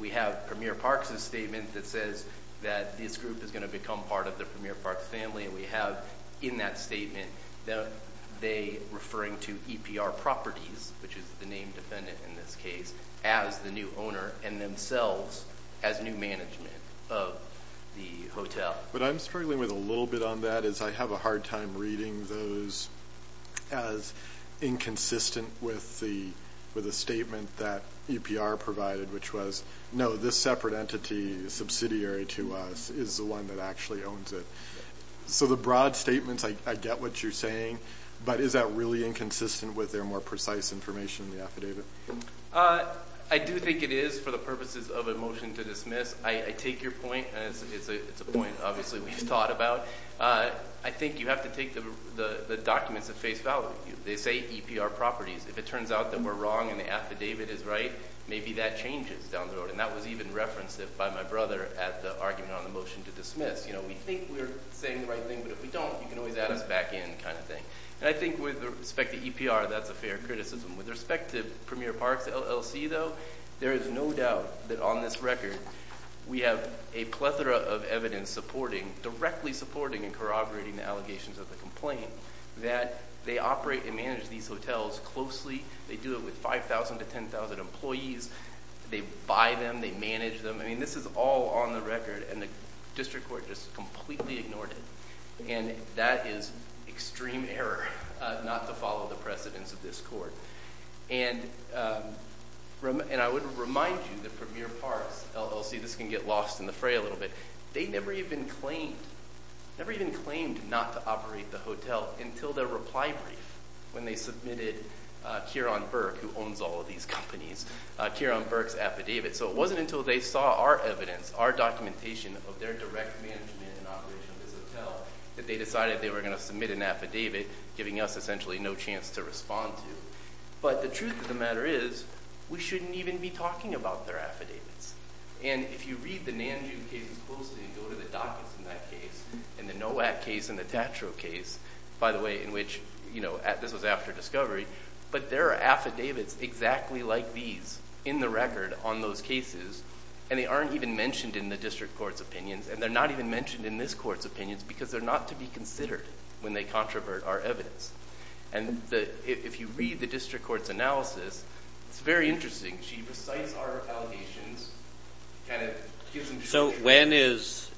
We have Premier Parks' statement that says that this group is going to become part of the Premier Parks family, and we have in that statement that they referring to EPR properties, which is the name defendant in this case, as the new owner, and themselves as new management of the hotel. What I'm struggling with a little bit on that is I have a hard time reading those as inconsistent with the statement that EPR provided, which was, no, this separate entity, subsidiary to us, is the one that actually owns it. So the broad statement, I get what you're saying, but is that really inconsistent with their more precise information in the affidavit? I do think it is for the purposes of a motion to dismiss. I take your point, as is the point, obviously, we've talked about. I think you have to take the documents at face value. They say EPR properties. If it turns out that we're wrong and the affidavit is right, maybe that changes down the road. And that was even referenced by my brother as the argument on the motion to dismiss. We think we're saying the right thing, but if we don't, we can always add us back in kind of thing. And I think with respect to EPR, that's a fair criticism. With respect to Premier Parks LLC, though, there is no doubt that on this record, we have a plethora of evidence supporting, directly supporting and corroborating the allegations of the complainant, that they operate and manage these hotels closely. They do it with 5,000 to 10,000 employees. They buy them. They manage them. I mean, this is all on the record, and the district court just completely ignored it. And that is extreme error not to follow the precedence of this court. And I would remind you that Premier Parks LLC, this can get lost in the fray a little bit, they never even claimed not to operate the hotel until their reply brief when they submitted Ciaran Burke, who owns all of these companies, Ciaran Burke's affidavit. So it wasn't until they saw our evidence, our documentation of their direct management and operations of the hotel, that they decided they were going to submit an affidavit, giving us essentially no chance to respond to. But the truth of the matter is, we shouldn't even be talking about their affidavits. And if you read the NAMJU case closely, and go to the documents in that case, and the NOAC case and the TATRO case, by the way, in which this was after discovery, but there are affidavits exactly like these in the record on those cases, and they aren't even mentioned in the district court's opinions, and they're not even mentioned in this court's opinions because they're not to be considered when they controvert our evidence. And if you read the district court's analysis, it's very interesting. So when is,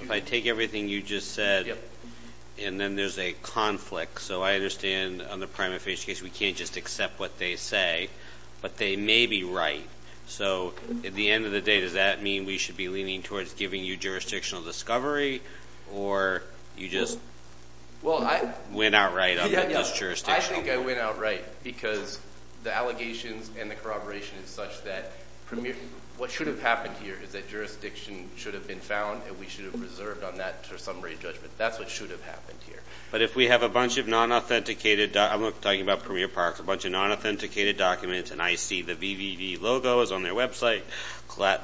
if I take everything you just said, and then there's a conflict. So I understand on the prime official case we can't just accept what they say, but they may be right. So at the end of the day, does that mean we should be leaning towards giving you jurisdictional discovery, or you just went out right on this jurisdiction? I think I went out right because the allegations and the corroboration is such that what should have happened here is that jurisdiction should have been found, and we should have reserved on that for summary judgment. That's what should have happened here. But if we have a bunch of non-authenticated, I'm talking about Premier Park, a bunch of non-authenticated documents, and I see the VVV logo is on their website,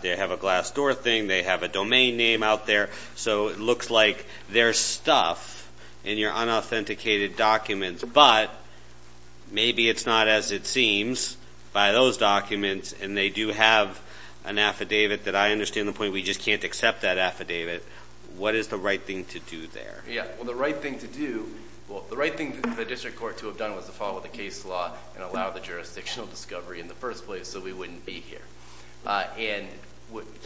they have a glass door thing, they have a domain name out there, so it looks like there's stuff in your unauthenticated documents, but maybe it's not as it seems by those documents, and they do have an affidavit that I understand the point, we just can't accept that affidavit. What is the right thing to do there? Yeah, well, the right thing to do, well, the right thing for the district court to have done was to follow the case law and allow the jurisdictional discovery in the first place so we wouldn't be here. And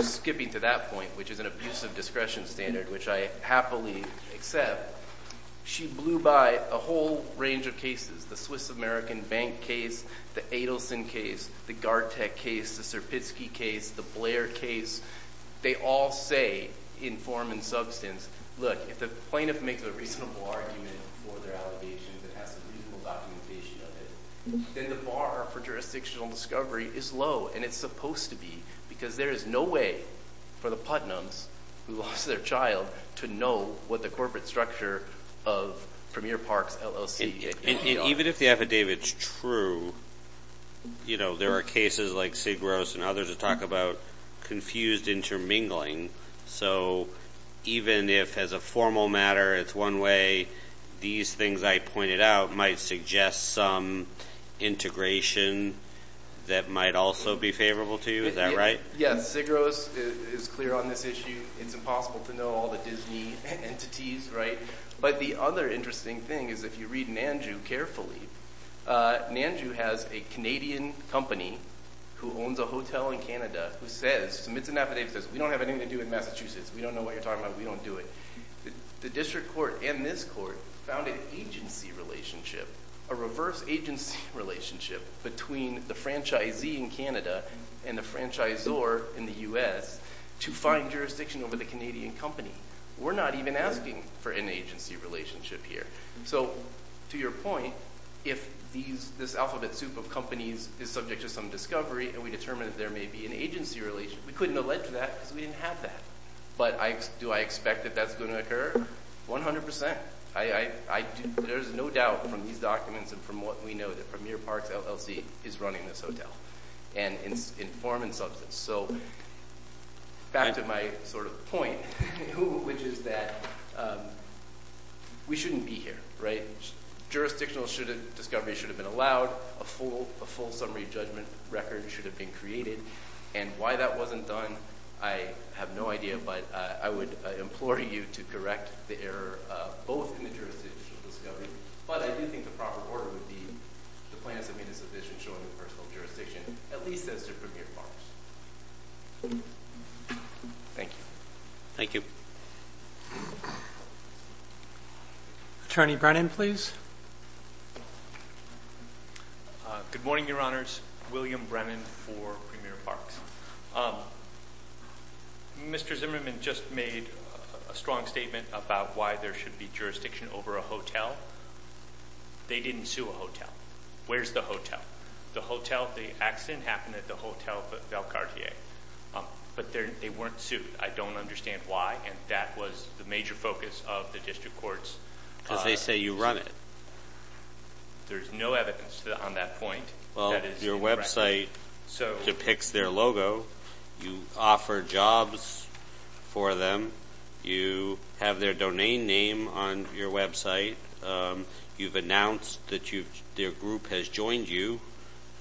skipping to that point, which is an abusive discretion standard, which I happily accept, but she blew by a whole range of cases, the Swiss American Bank case, the Adelson case, the Gartec case, the Serpitsky case, the Blair case. They all say, in form and substance, look, if the plaintiff makes a reasonable argument for their allegations and has a reasonable documentation of it, then the bar for jurisdictional discovery is low, and it's supposed to be, because there is no way for the Putnams, who lost their child, to know what the corporate structure of Premier Park, L.O.C. Even if the affidavit's true, you know, there are cases like Sigros and others that talk about confused intermingling, so even if, as a formal matter, it's one way, these things I pointed out might suggest some integration that might also be favorable to you. Is that right? Yeah, Sigros is clear on this issue. It's impossible to know all the Disney entities, right? But the other interesting thing is, if you read Nandu carefully, Nandu has a Canadian company who owns a hotel in Canada who says, submits an affidavit that says, we don't have anything to do with Massachusetts, we don't know what you're talking about, we don't do it. The district court and this court found an agency relationship, a reverse agency relationship, between the franchisee in Canada and the franchisor in the U.S. to find jurisdiction over the Canadian company. We're not even asking for an agency relationship here. So, to your point, if this alphabet soup of companies is subject to some discovery and we determine there may be an agency relationship, we couldn't allege that because we didn't have that. But do I expect that that's going to occur? One hundred percent. There's no doubt from these documents and from what we know that Premier Parks LLC is running this hotel and in form and substance. So, back to my sort of point, which is that we shouldn't be here, right? Jurisdictional discovery should have been allowed, a full summary judgment record should have been created, and why that wasn't done, I have no idea, but I would implore you to correct the error both in the jurisdictional discovery, but I do think the proper order would be to plan to make a decision showing personal jurisdiction, at least as to Premier Parks. Thank you. Attorney Brennan, please. Good morning, Your Honors. William Brennan for Premier Parks. Mr. Zimmerman just made a strong statement about why there should be jurisdiction over a hotel. They didn't sue a hotel. Where's the hotel? The hotel, the accident happened at the hotel at Valcartier, but they weren't sued. I don't understand why, and that was the major focus of the district courts. But they say you run it. There's no evidence on that point. Well, your website depicts their logo. You offer jobs for them. You have their domain name on your website. You've announced that their group has joined you.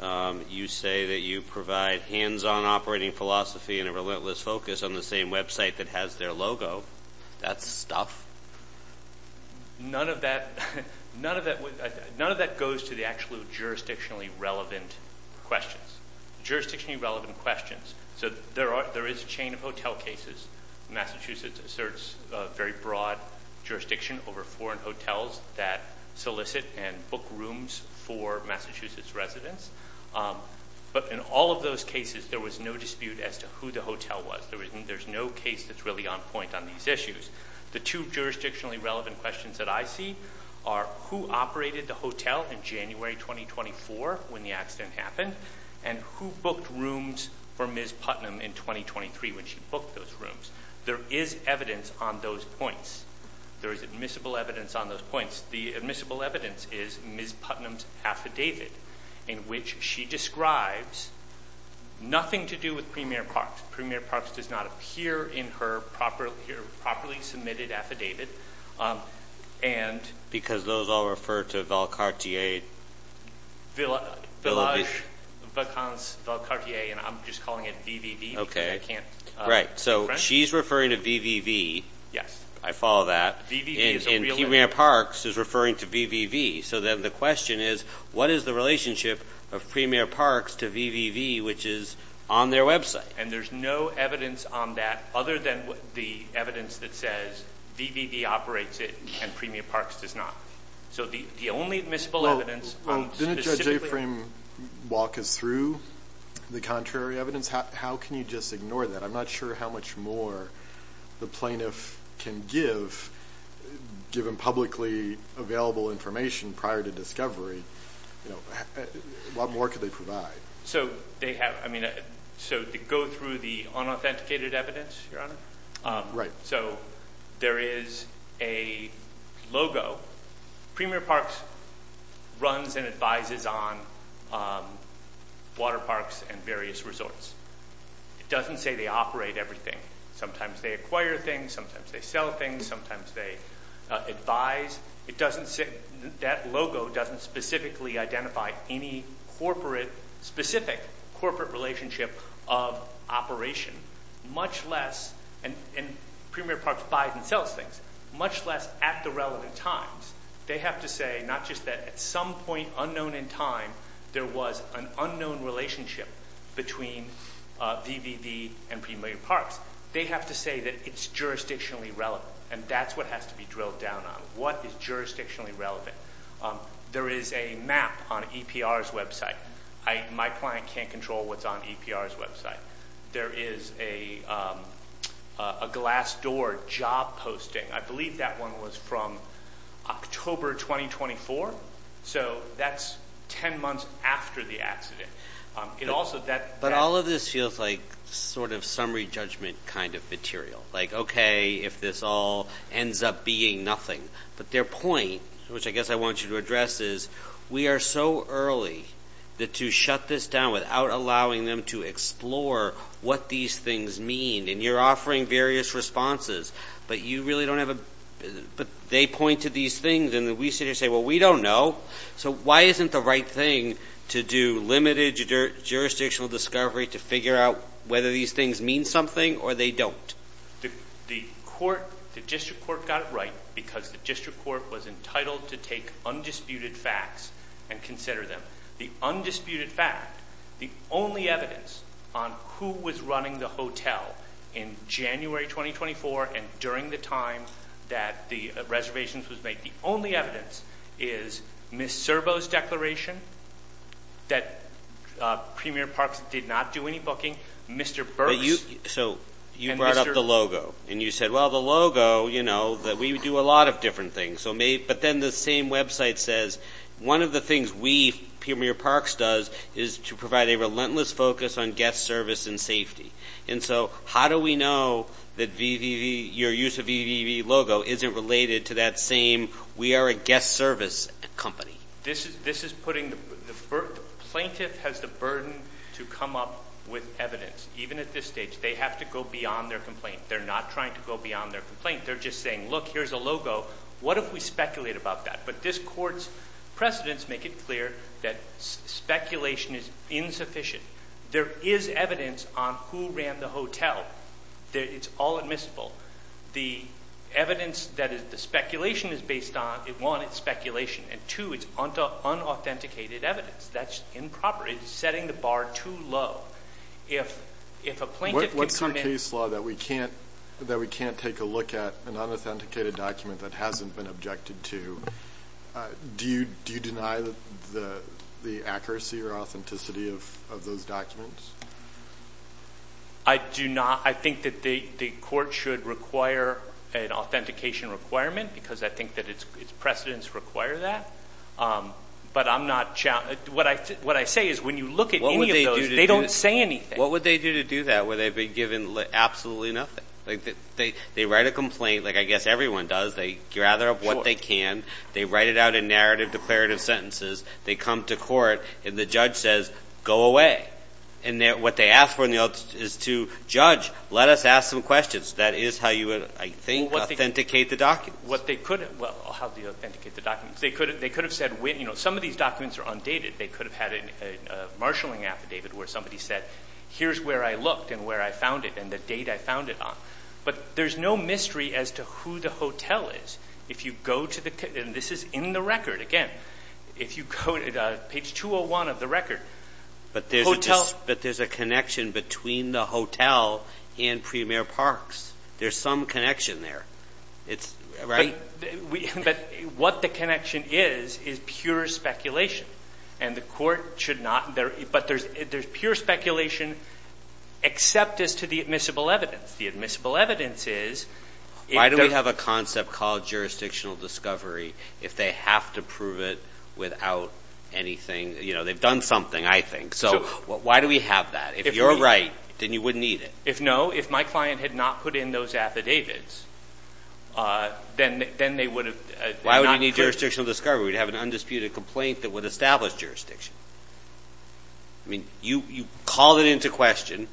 You say that you provide hands-on operating philosophy and a relentless focus on the same website that has their logo. That's stuff. None of that goes to the actual jurisdictionally relevant questions. Jurisdictionally relevant questions. So there is a chain of hotel cases. Massachusetts asserts very broad jurisdiction over foreign hotels that solicit and book rooms for Massachusetts residents. But in all of those cases, there was no dispute as to who the hotel was. There's no case that's really on point on these issues. The two jurisdictionally relevant questions that I see are who operated the hotel in January 2024 when the accident happened, and who booked rooms for Ms. Putnam in 2023 when she booked those rooms. There is evidence on those points. There is admissible evidence on those points. The admissible evidence is Ms. Putnam's affidavit in which she describes nothing to do with Premier Props. Premier Props does not appear in her properly submitted affidavit. Because those all refer to Valcartier. Village. Valcartier. I'm just calling it VVV. Right. So she's referring to VVV. Yes. I follow that. And Premier Parks is referring to VVV. So then the question is, what is the relationship of Premier Parks to VVV, which is on their website? And there's no evidence on that other than the evidence that says VVV operates it and Premier Parks does not. So the only admissible evidence... Didn't Judge Aframe walk us through the contrary evidence? How can you just ignore that? I'm not sure how much more the plaintiff can give, given publicly available information prior to discovery. What more could they provide? So they have... So to go through the unauthenticated evidence, Your Honor? Right. So there is a logo. Premier Parks runs and advises on water parks and various resorts. It doesn't say they operate everything. Sometimes they acquire things, sometimes they sell things, sometimes they advise. It doesn't say... That logo doesn't specifically identify any specific corporate relationship of operation, much less... And Premier Parks buys and sells things, much less at the relevant times. They have to say not just that at some point unknown in time there was an unknown relationship between VVV and Premier Parks. They have to say that it's jurisdictionally relevant, and that's what has to be drilled down on. What is jurisdictionally relevant? There is a map on EPR's website. My client can't control what's on EPR's website. There is a glass door job posting. I believe that one was from October 2024. So that's ten months after the accident. But all of this feels like sort of summary judgment kind of material, like okay, if this all ends up being nothing. But their point, which I guess I want you to address, is we are so early to shut this down without allowing them to explore what these things mean. And you're offering various responses, but you really don't have a... They point to these things and we sort of say, well, we don't know. So why isn't the right thing to do limited jurisdictional discovery to figure out whether these things mean something or they don't? The court, the district court got it right because the district court was entitled to take undisputed facts and consider them. The undisputed facts, the only evidence on who was running the hotel in January 2024 and during the time that the reservation was made, the only evidence is Ms. Servo's declaration that Premier Parks did not do any booking. So you brought up the logo and you said, well, the logo, you know, we do a lot of different things. But then the same website says one of the things we, Premier Parks, does is to provide a relentless focus on guest service and safety. And so how do we know that your use of VVV logo isn't related to that same we are a guest service company? This is putting the plaintiff has the burden to come up with evidence. Even at this stage, they have to go beyond their complaint. They're not trying to go beyond their complaint. They're just saying, look, here's a logo. What if we speculate about that? But this court's precedents make it clear that speculation is insufficient. There is evidence on who ran the hotel. It's all admissible. The evidence that the speculation is based on, one, it's speculation, and two, it's unauthenticated evidence. That's improper. It's setting the bar too low. If a plaintiff can come in – What's your case law that we can't take a look at an unauthenticated document that hasn't been objected to? Do you deny the accuracy or authenticity of those documents? I do not. I think that the court should require an authentication requirement because I think that its precedents require that. But what I say is when you look at any of those, they don't say anything. What would they do to do that where they've been given absolutely nothing? They write a complaint like I guess everyone does. They gather up what they can. They write it out in narrative declarative sentences. They come to court, and the judge says, go away. And what they ask for is to, judge, let us ask some questions. That is how you, I think, authenticate the document. Well, how do you authenticate the document? They could have said, some of these documents are undated. They could have had a marshaling affidavit where somebody said, here's where I looked and where I found it and the date I found it on. But there's no mystery as to who the hotel is. If you go to the, and this is in the record. Again, if you go to page 201 of the record. But there's a connection between the hotel and Premier Parks. There's some connection there. But what the connection is is pure speculation. And the court should not, but there's pure speculation except as to the admissible evidence. The admissible evidence is. Why do we have a concept called jurisdictional discovery if they have to prove it without anything? You know, they've done something, I think. So, why do we have that? If you're right, then you wouldn't need it. If no, if my client had not put in those affidavits, then they would have. Why would we need jurisdictional discovery? We'd have an undisputed complaint that would establish jurisdiction. I mean, you call it into question.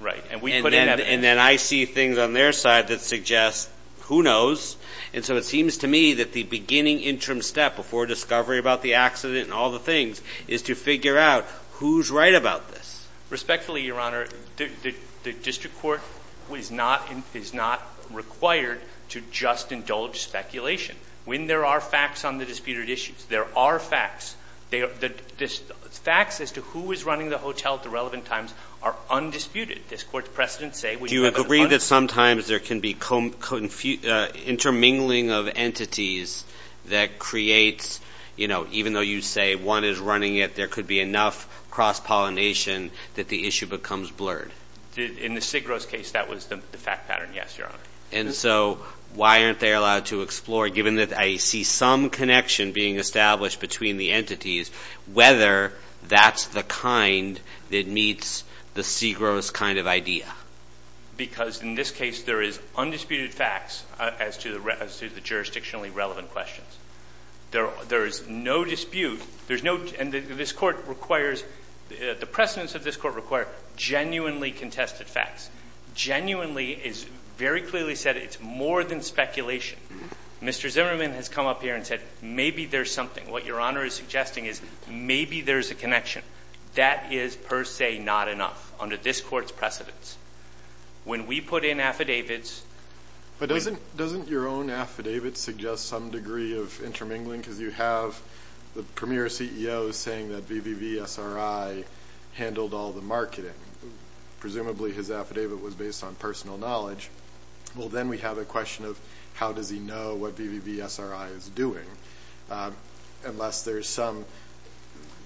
Right. And then I see things on their side that suggest who knows. And so it seems to me that the beginning interim step before discovery about the accident and all the things is to figure out who's right about this. Respectfully, Your Honor, the district court is not required to just indulge speculation. When there are facts on the disputed issues, there are facts. The facts as to who was running the hotel at the relevant times are undisputed. Does Court's precedent say we have a- Do you agree that sometimes there can be intermingling of entities that creates, you know, even though you say one is running it, there could be enough cross-pollination that the issue becomes blurred? In the Sigros case, that was the fact pattern, yes, Your Honor. And so why aren't they allowed to explore, given that I see some connection being established between the entities, whether that's the kind that meets the Sigros kind of idea? Because in this case, there is undisputed facts as to the jurisdictionally relevant questions. There is no dispute. And this court requires- The precedents of this court require genuinely contested facts. Genuinely is very clearly said it's more than speculation. Mr. Zimmerman has come up here and said maybe there's something. What Your Honor is suggesting is maybe there's a connection. That is per se not enough under this court's precedents. When we put in affidavits- But doesn't your own affidavit suggest some degree of intermingling? Because you have the premier CEO saying that VVVSRI handled all the marketing. Presumably his affidavit was based on personal knowledge. Well, then we have a question of how does he know what VVVSRI is doing? Unless there's some-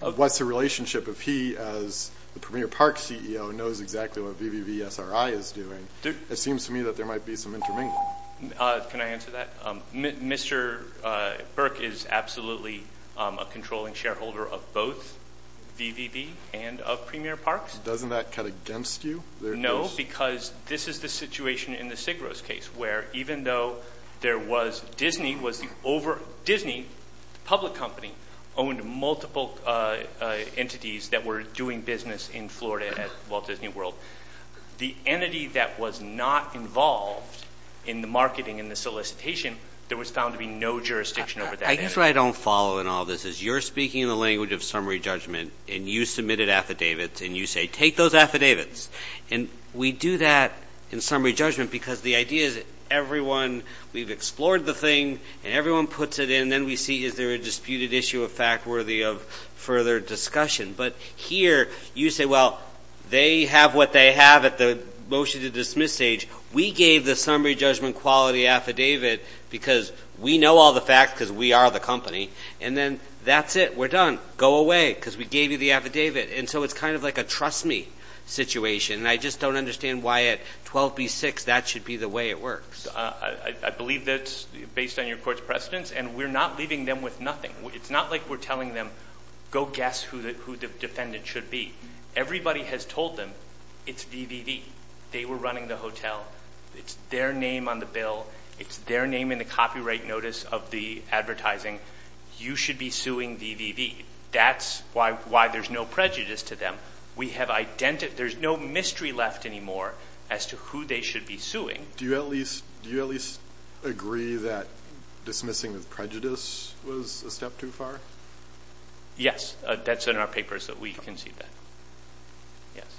What's the relationship if he, as the premier park CEO, knows exactly what VVVSRI is doing? It seems to me that there might be some intermingling. Can I answer that? Mr. Burke is absolutely a controlling shareholder of both VVV and of premier parks. Doesn't that cut against you? No, because this is the situation in the Sigros case where even though there was- Disney, the public company, owned multiple entities that were doing business in Florida as well as Disney World. The entity that was not involved in the marketing and the solicitation, there was found to be no jurisdiction over that entity. I guess what I don't follow in all this is you're speaking in the language of summary judgment and you submitted affidavits and you say, Take those affidavits. We do that in summary judgment because the idea is that everyone- We've explored the thing and everyone puts it in. Then we see is there a disputed issue of fact worthy of further discussion. But here you say, well, they have what they have at the motion to dismiss stage. We gave the summary judgment quality affidavit because we know all the facts because we are the company. And then that's it. We're done. Go away because we gave you the affidavit. And so it's kind of like a trust me situation. I just don't understand why at 12B6 that should be the way it works. I believe that's based on your court's precedence. And we're not leaving them with nothing. It's not like we're telling them, go guess who the defendant should be. Everybody has told them it's VVV. They were running the hotel. It's their name on the bill. It's their name in the copyright notice of the advertising. You should be suing VVV. That's why there's no prejudice to them. There's no mystery left anymore as to who they should be suing. Do you at least agree that dismissing the prejudice was a step too far? Yes. That's in our papers that we concede that. Yes.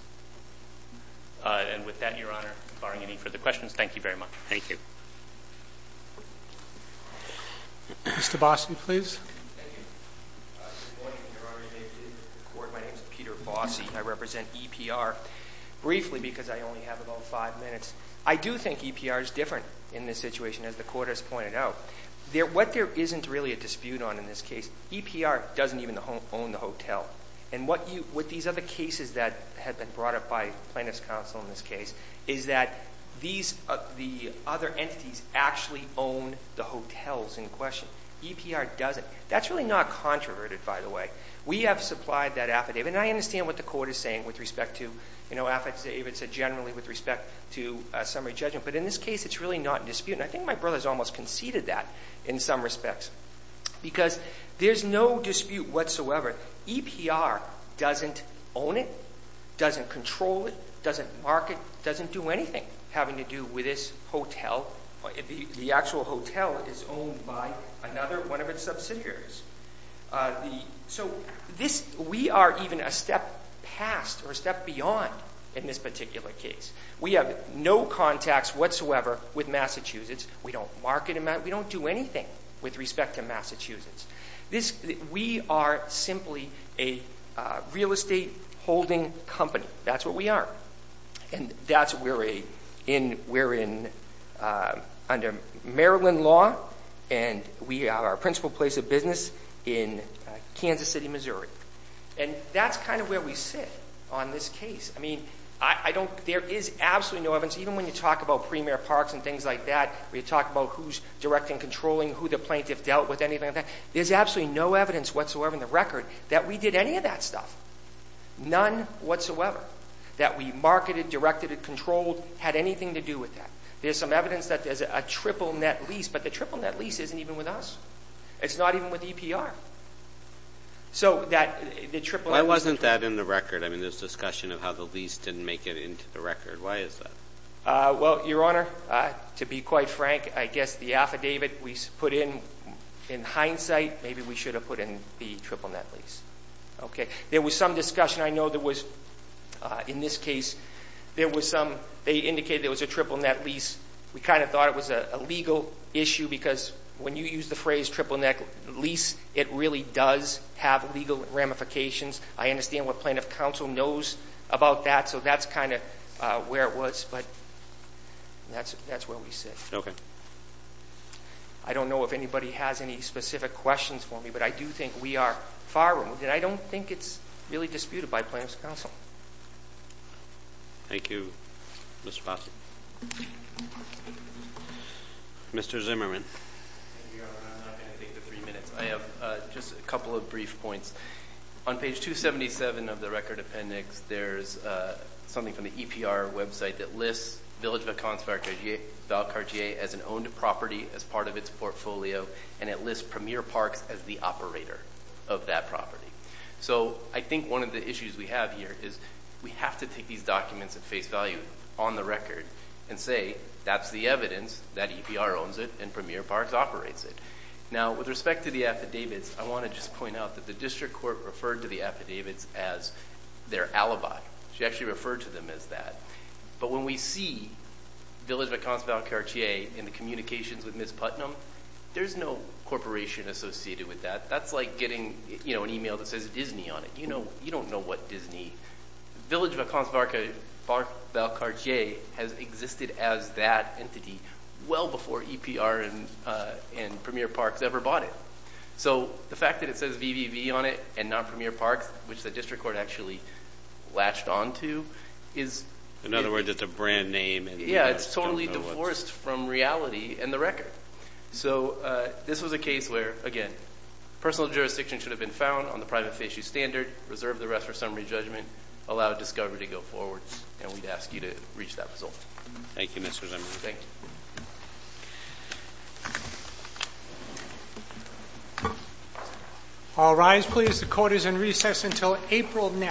And with that, Your Honor, if there are any further questions, thank you very much. Thank you. Mr. Boston, please. Good morning, Your Honor. My name is Peter Boston. I represent EPR. Briefly, because I only have about five minutes, I do think EPR is different in this situation, as the court has pointed out. What there isn't really a dispute on in this case, EPR doesn't even own the hotel. And what these other cases that have been brought up by Plaintiff's Counsel in this case, is that these other entities actually own the hotels in question. EPR doesn't. That's really not controverted, by the way. We have supplied that affidavit. And I understand what the court is saying with respect to, you know, affidavits generally with respect to summary judgment. But in this case, it's really not disputed. And I think my brother has almost conceded that in some respects. Because there's no dispute whatsoever. EPR doesn't own it, doesn't control it, doesn't mark it, doesn't do anything having to do with this hotel. The actual hotel is owned by another one of its subsidiaries. So we are even a step past or a step beyond in this particular case. We have no contacts whatsoever with Massachusetts. We don't market in Massachusetts. We don't do anything with respect to Massachusetts. We are simply a real estate holding company. That's what we are. And that's where we're in under Maryland law. And we are our principal place of business in Kansas City, Missouri. And that's kind of where we sit on this case. I mean, there is absolutely no evidence, even when you talk about premier parks and things like that, or you talk about who's directing and controlling, who the plaintiff dealt with, anything like that, there's absolutely no evidence whatsoever in the record that we did any of that stuff. None whatsoever that we marketed, directed, and controlled had anything to do with that. There's some evidence that there's a triple net lease, but the triple net lease isn't even with us. It's not even with EPR. Why wasn't that in the record? I mean, there's discussion of how the lease didn't make it into the record. Why is that? Well, Your Honor, to be quite frank, I guess the affidavit we put in, in hindsight, maybe we should have put in the triple net lease. Okay. There was some discussion. I know there was, in this case, there was some, they indicated there was a triple net lease. We kind of thought it was a legal issue, because when you use the phrase triple net lease, it really does have legal ramifications. I understand what plaintiff counsel knows about that, so that's kind of where it was, but that's where we sit. Okay. I don't know if anybody has any specific questions for me, but I do think we are far removed, and I don't think it's really disputed by plaintiff's counsel. Thank you, Mr. Fossett. Mr. Zimmerman. Your Honor, I'm not going to take the three minutes. I have just a couple of brief points. On page 277 of the record appendix, there's something from the EPR website that lists Village of Concert as an owned property as part of its portfolio, and it lists Premier Park as the operator of that property. So I think one of the issues we have here is we have to take these documents at face value on the record and say that's the evidence that EPR owns it and Premier Park operates it. Now, with respect to the affidavits, I want to just point out that the district court referred to the affidavits as their alibi. She actually referred to them as that. But when we see Village of Concert on Cartier in the communications with Ms. Putnam, there's no corporation associated with that. That's like getting an e-mail that says Disney on it. You don't know what Disney. Village of Concert by Cartier has existed as that entity well before EPR and Premier Park ever bought it. So the fact that it says VVV on it and not Premier Park, which the district court actually latched onto, is... In other words, it's a brand name. Yeah, it's totally divorced from reality and the record. So this was a case where, again, personal jurisdiction should have been found on the privacy issue standard, reserve the rest for summary judgment, allow discovery to go forward, and we'd ask you to reach that result. Thank you, Mr. Jimenez. Thank you. All rise, please. The court is in recess until April next.